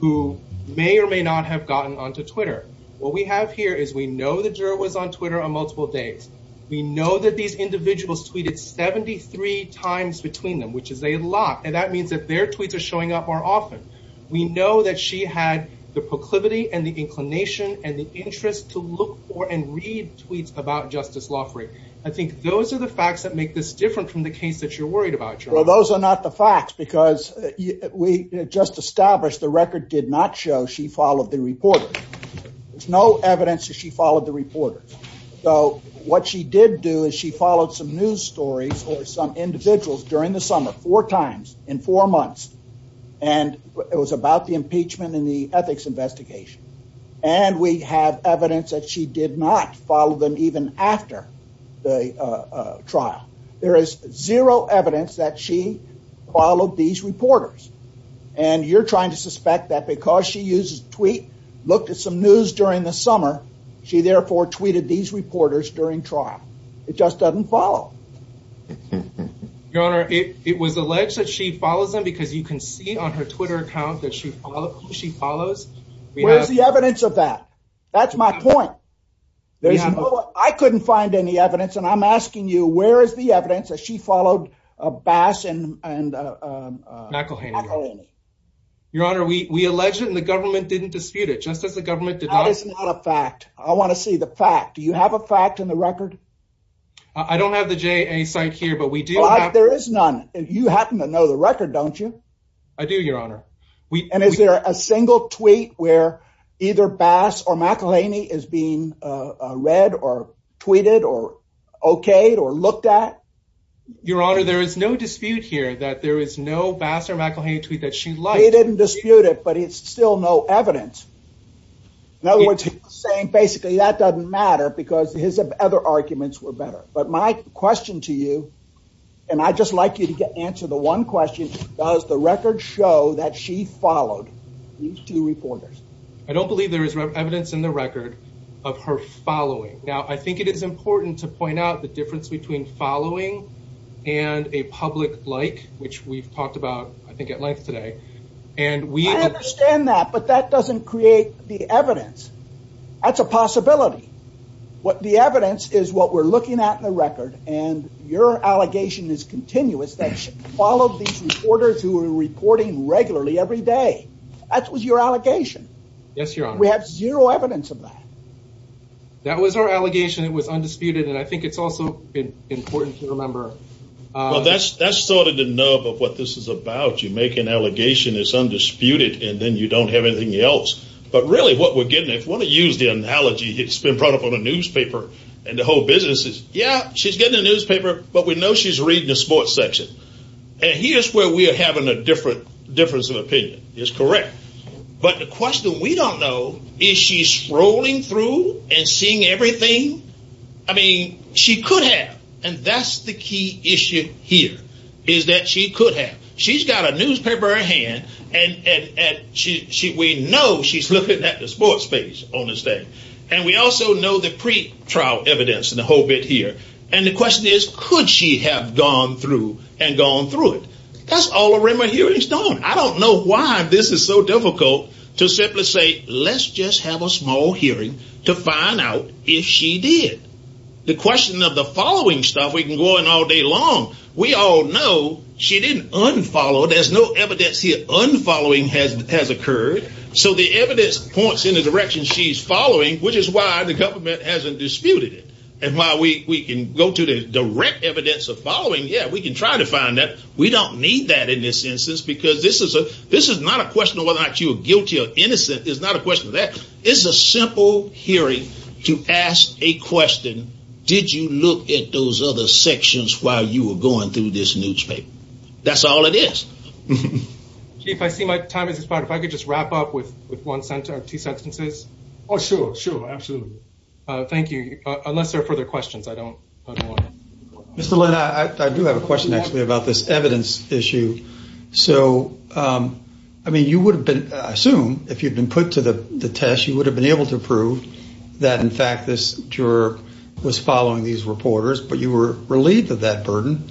who may or may not have gotten onto Twitter. What we have here is we know the juror was on Twitter on multiple days. We know that these individuals tweeted 73 times between them, which is a lot, and that means that their tweets are showing up more often. We know that she had the proclivity and the inclination and the interest to look for and read tweets about Justice Loffrey. I think those are the facts that make this different from the case that you're worried about, Your Honor. Well, those are not the facts because we just established the record did not show she followed the reporter. There's no evidence that she followed the reporter. So what she did do is she followed some news stories or some individuals during the summer four times in four months, and it was about the impeachment and the ethics investigation. And we have evidence that she did not follow them even after the trial. There is zero evidence that she followed these reporters. And you're trying to suspect that because she used a tweet, looked at some news during the summer, she therefore tweeted these reporters during trial. It just doesn't follow. Your Honor, it was alleged that she followed them because you can see on her Twitter account that she follows. Where's the evidence of that? That's my point. I couldn't find any evidence. And I'm asking you, where is the evidence that she followed Bass and McElhaney? Your Honor, we allege that the government didn't dispute it, just as the government did not. That is not a fact. I want to see the fact. Do you have a fact in the record? I don't have the JA site here, but we do. There is none. You happen to know the record, don't you? I do, Your Honor. And is there a single tweet where either Bass or McElhaney is being read or tweeted or okayed or looked at? Your Honor, there is no dispute here that there is no Bass or McElhaney tweet that she liked. They didn't dispute it, but it's still no evidence. In other words, you're saying basically that doesn't matter because his other arguments were better. But my question to you, and I'd just like you to answer the one question, does the record show that she followed these two reporters? I don't believe there is evidence in the record of her following. Now, I think it is important to point out the difference between following and a public like, which we've talked about, I think, at length today. I understand that, but that doesn't create the evidence. That's a possibility. The evidence is what we're looking at in the record, and your allegation is continuous that she followed these reporters who were reporting regularly every day. That was your allegation. Yes, Your Honor. We have zero evidence of that. That was our allegation. It was undisputed, and I think it's also important to remember. Well, that's sort of the nerve of what this is about. You make an allegation that's undisputed, and then you don't have anything else. But really, what we're getting at, if you want to use the analogy, it's been brought up on a newspaper, and the whole business is, yeah, she's getting a newspaper, but we know she's reading a sports section. And here's where we're having a difference of opinion. It's correct. But the question we don't know is she's scrolling through and seeing everything? I mean, she could have, and that's the key issue here, is that she could have. She's got a newspaper in her hand, and we know she's looking at the sports space on this day. And we also know the pre-trial evidence and the whole bit here. And the question is, could she have gone through and gone through it? That's all around the hearing stone. I don't know why this is so difficult to simply say, let's just have a small hearing to find out if she did. The question of the following stuff, we can go on all day long. We all know she didn't unfollow. There's no evidence here unfollowing has occurred. So the evidence points in the direction she's following, which is why the government hasn't disputed it. And while we can go to the direct evidence of following, yeah, we can try to find that. We don't need that in this instance, because this is not a question of whether or not you are guilty or innocent. It's not a question of that. It's a simple hearing to ask a question, did you look at those other sections while you were going through this newspaper? That's all it is. Chief, I see my time has expired. If I could just wrap up with one sentence or two sentences. Oh, sure, sure, absolutely. Thank you. Unless there are further questions, I don't know. Mr. Lynn, I do have a question actually about this evidence issue. So, I mean, you would have been, I assume, if you had been put to the test, you would have been able to prove that, in fact, this juror was following these reporters, but you were relieved of that burden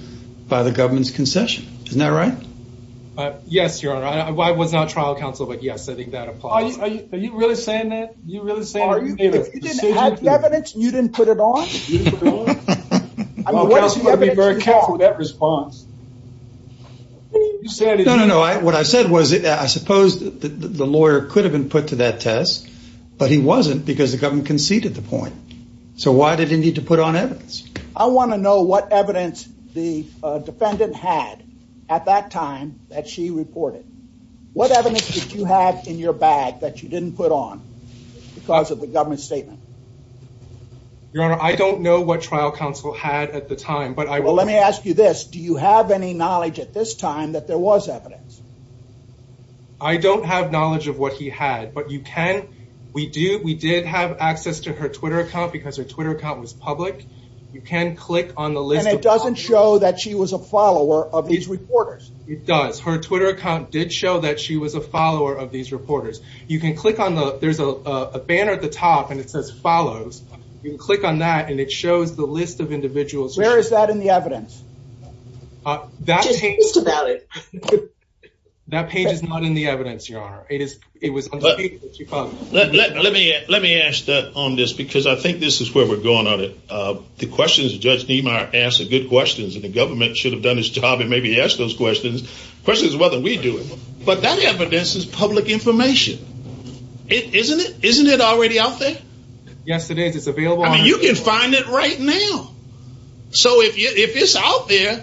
by the government's concession. Isn't that right? Yes, Your Honor. I was not trial counsel, but, yes, I think that applies. Are you really saying that? Are you really saying that? If you didn't have evidence, you didn't put it on? Well, you've got to be very careful with that response. No, no, no. What I said was, I suppose the lawyer could have been put to that test, but he wasn't because the government conceded the point. So, why did he need to put on evidence? I want to know what evidence the defendant had at that time that she reported. What evidence did you have in your bag that you didn't put on because of the government's statement? Your Honor, I don't know what trial counsel had at the time. Well, let me ask you this. Do you have any knowledge at this time that there was evidence? I don't have knowledge of what he had, but you can. We did have access to her Twitter account because her Twitter account was public. You can click on the link. And it doesn't show that she was a follower of these reporters? It does. Her Twitter account did show that she was a follower of these reporters. There's a banner at the top and it says, follows. You can click on that and it shows the list of individuals. Where is that in the evidence? Just think about it. That page is not in the evidence, Your Honor. Let me ask that on this because I think this is where we're going on it. The questions Judge Niemeyer asks are good questions and the government should have done its job and maybe asked those questions. The question is whether we do. But that evidence is public information, isn't it? Isn't it already out there? Yes, it is. You can find it right now. So if it's out there,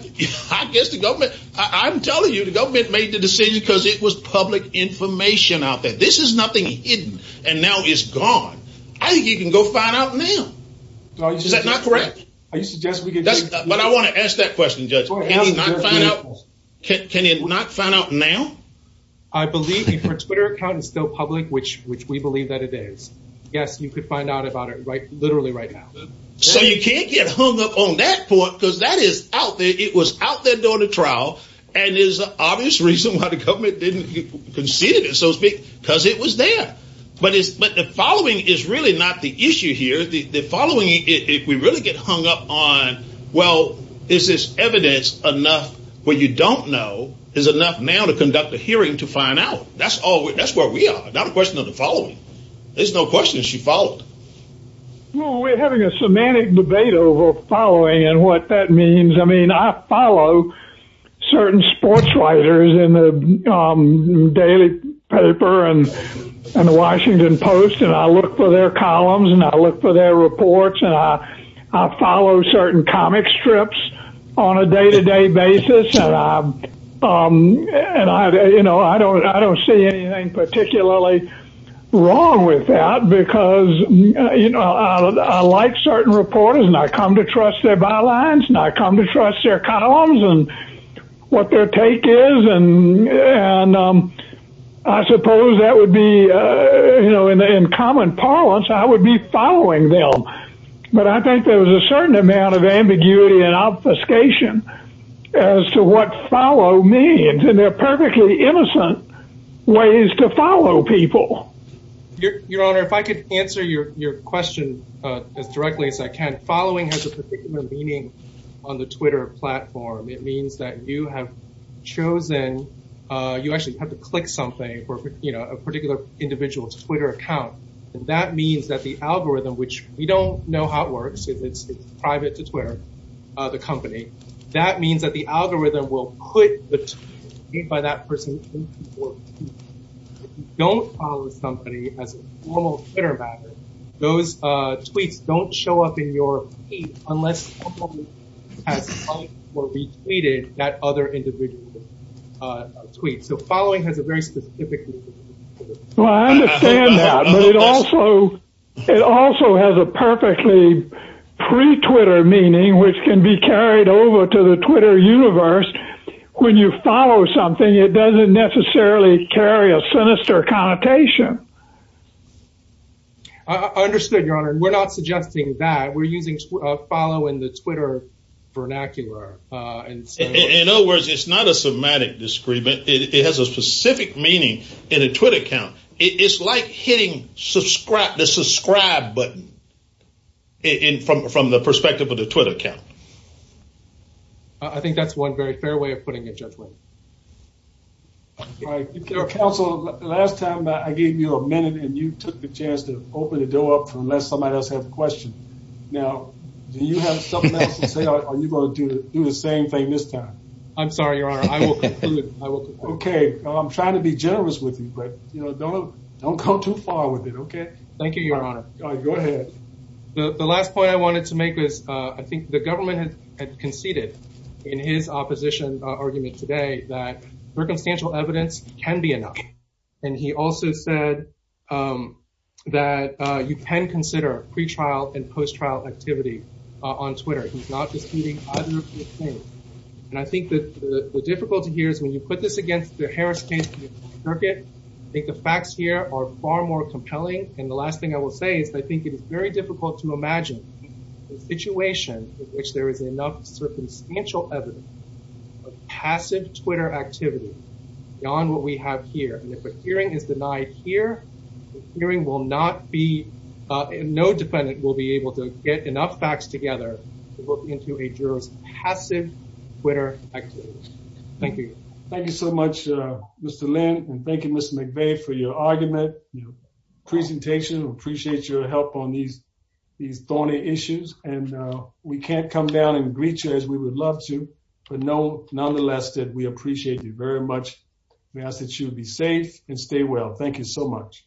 I'm telling you the government made the decision because it was public information out there. This is nothing hidden and now it's gone. I think you can go find out now. Is that not correct? I want to ask that question, Judge. Can it not find out now? I believe if your Twitter account is still public, which we believe that it is, yes, you could find out about it literally right now. So you can't get hung up on that point because that is out there. It was out there during the trial and there's an obvious reason why the government didn't concede it, so to speak, because it was there. But the following is really not the issue here. The following, if we really get hung up on, well, is this evidence enough where you don't know, is it enough now to conduct a hearing to find out? That's where we are. It's not a question of the following. There's no question that she followed. Well, we're having a semantic debate over following and what that means. I mean, I follow certain sportswriters in the Daily Paper and the Washington Post and I look for their columns and I look for their reports. I follow certain comic strips on a day-to-day basis. And I don't see anything particularly wrong with that because I like certain reporters and I come to trust their bylines and I come to trust their columns and what their take is. And I suppose that would be, in common parlance, I would be following them. But I think there's a certain amount of ambiguity and obfuscation as to what follow means. And they're perfectly innocent ways to follow people. Your Honor, if I could answer your question as directly as I can. Following has a particular meaning on the Twitter platform. It means that you have chosen, you actually have to click something for a particular individual's Twitter account. And that means that the algorithm, which we don't know how it works. It's private to Twitter, the company. That means that the algorithm will click the tweet by that person. If you don't follow the company as a formal Twitter master, those tweets don't show up in your feed unless someone has liked or retweeted that other individual's tweet. So following has a very specific meaning. Well, I understand that. But it also has a perfectly pre-Twitter meaning, which can be carried over to the Twitter universe. When you follow something, it doesn't necessarily carry a sinister connotation. I understood, Your Honor. We're not suggesting that. We're using following the Twitter vernacular. In other words, it's not a semantic discrepancy. It has a specific meaning in a Twitter account. It's like hitting the subscribe button from the perspective of a Twitter account. I think that's one very fair way of putting it, Judge Wood. Counsel, last time I gave you a minute and you took the chance to open the door up and let somebody else have a question. Now, do you have something else to say or are you going to do the same thing this time? I'm sorry, Your Honor. I will continue. Okay. I'm trying to be generous with you, but, you know, don't come too far with it, okay? Thank you, Your Honor. Go ahead. The last point I wanted to make is I think the government has conceded in his opposition argument today that circumstantial evidence can be enough. And he also said that you can consider pre-trial and post-trial activity on Twitter. And I think the difficulty here is when you put this against the Harris case, I think the facts here are far more compelling. And the last thing I will say is I think it is very difficult to imagine a situation in which there is enough circumstantial evidence of passive Twitter activity beyond what we have here. And if a hearing is denied here, the hearing will not be – no defendant will be able to get enough facts together to look into a juror's passive Twitter activity. Thank you. Thank you so much, Mr. Ling, and thank you, Mr. McVeigh, for your argument, your presentation. We appreciate your help on these thorny issues. And we can't come down and greet you as we would love to, but nonetheless, we appreciate you very much. We ask that you be safe and stay well. Thank you so much.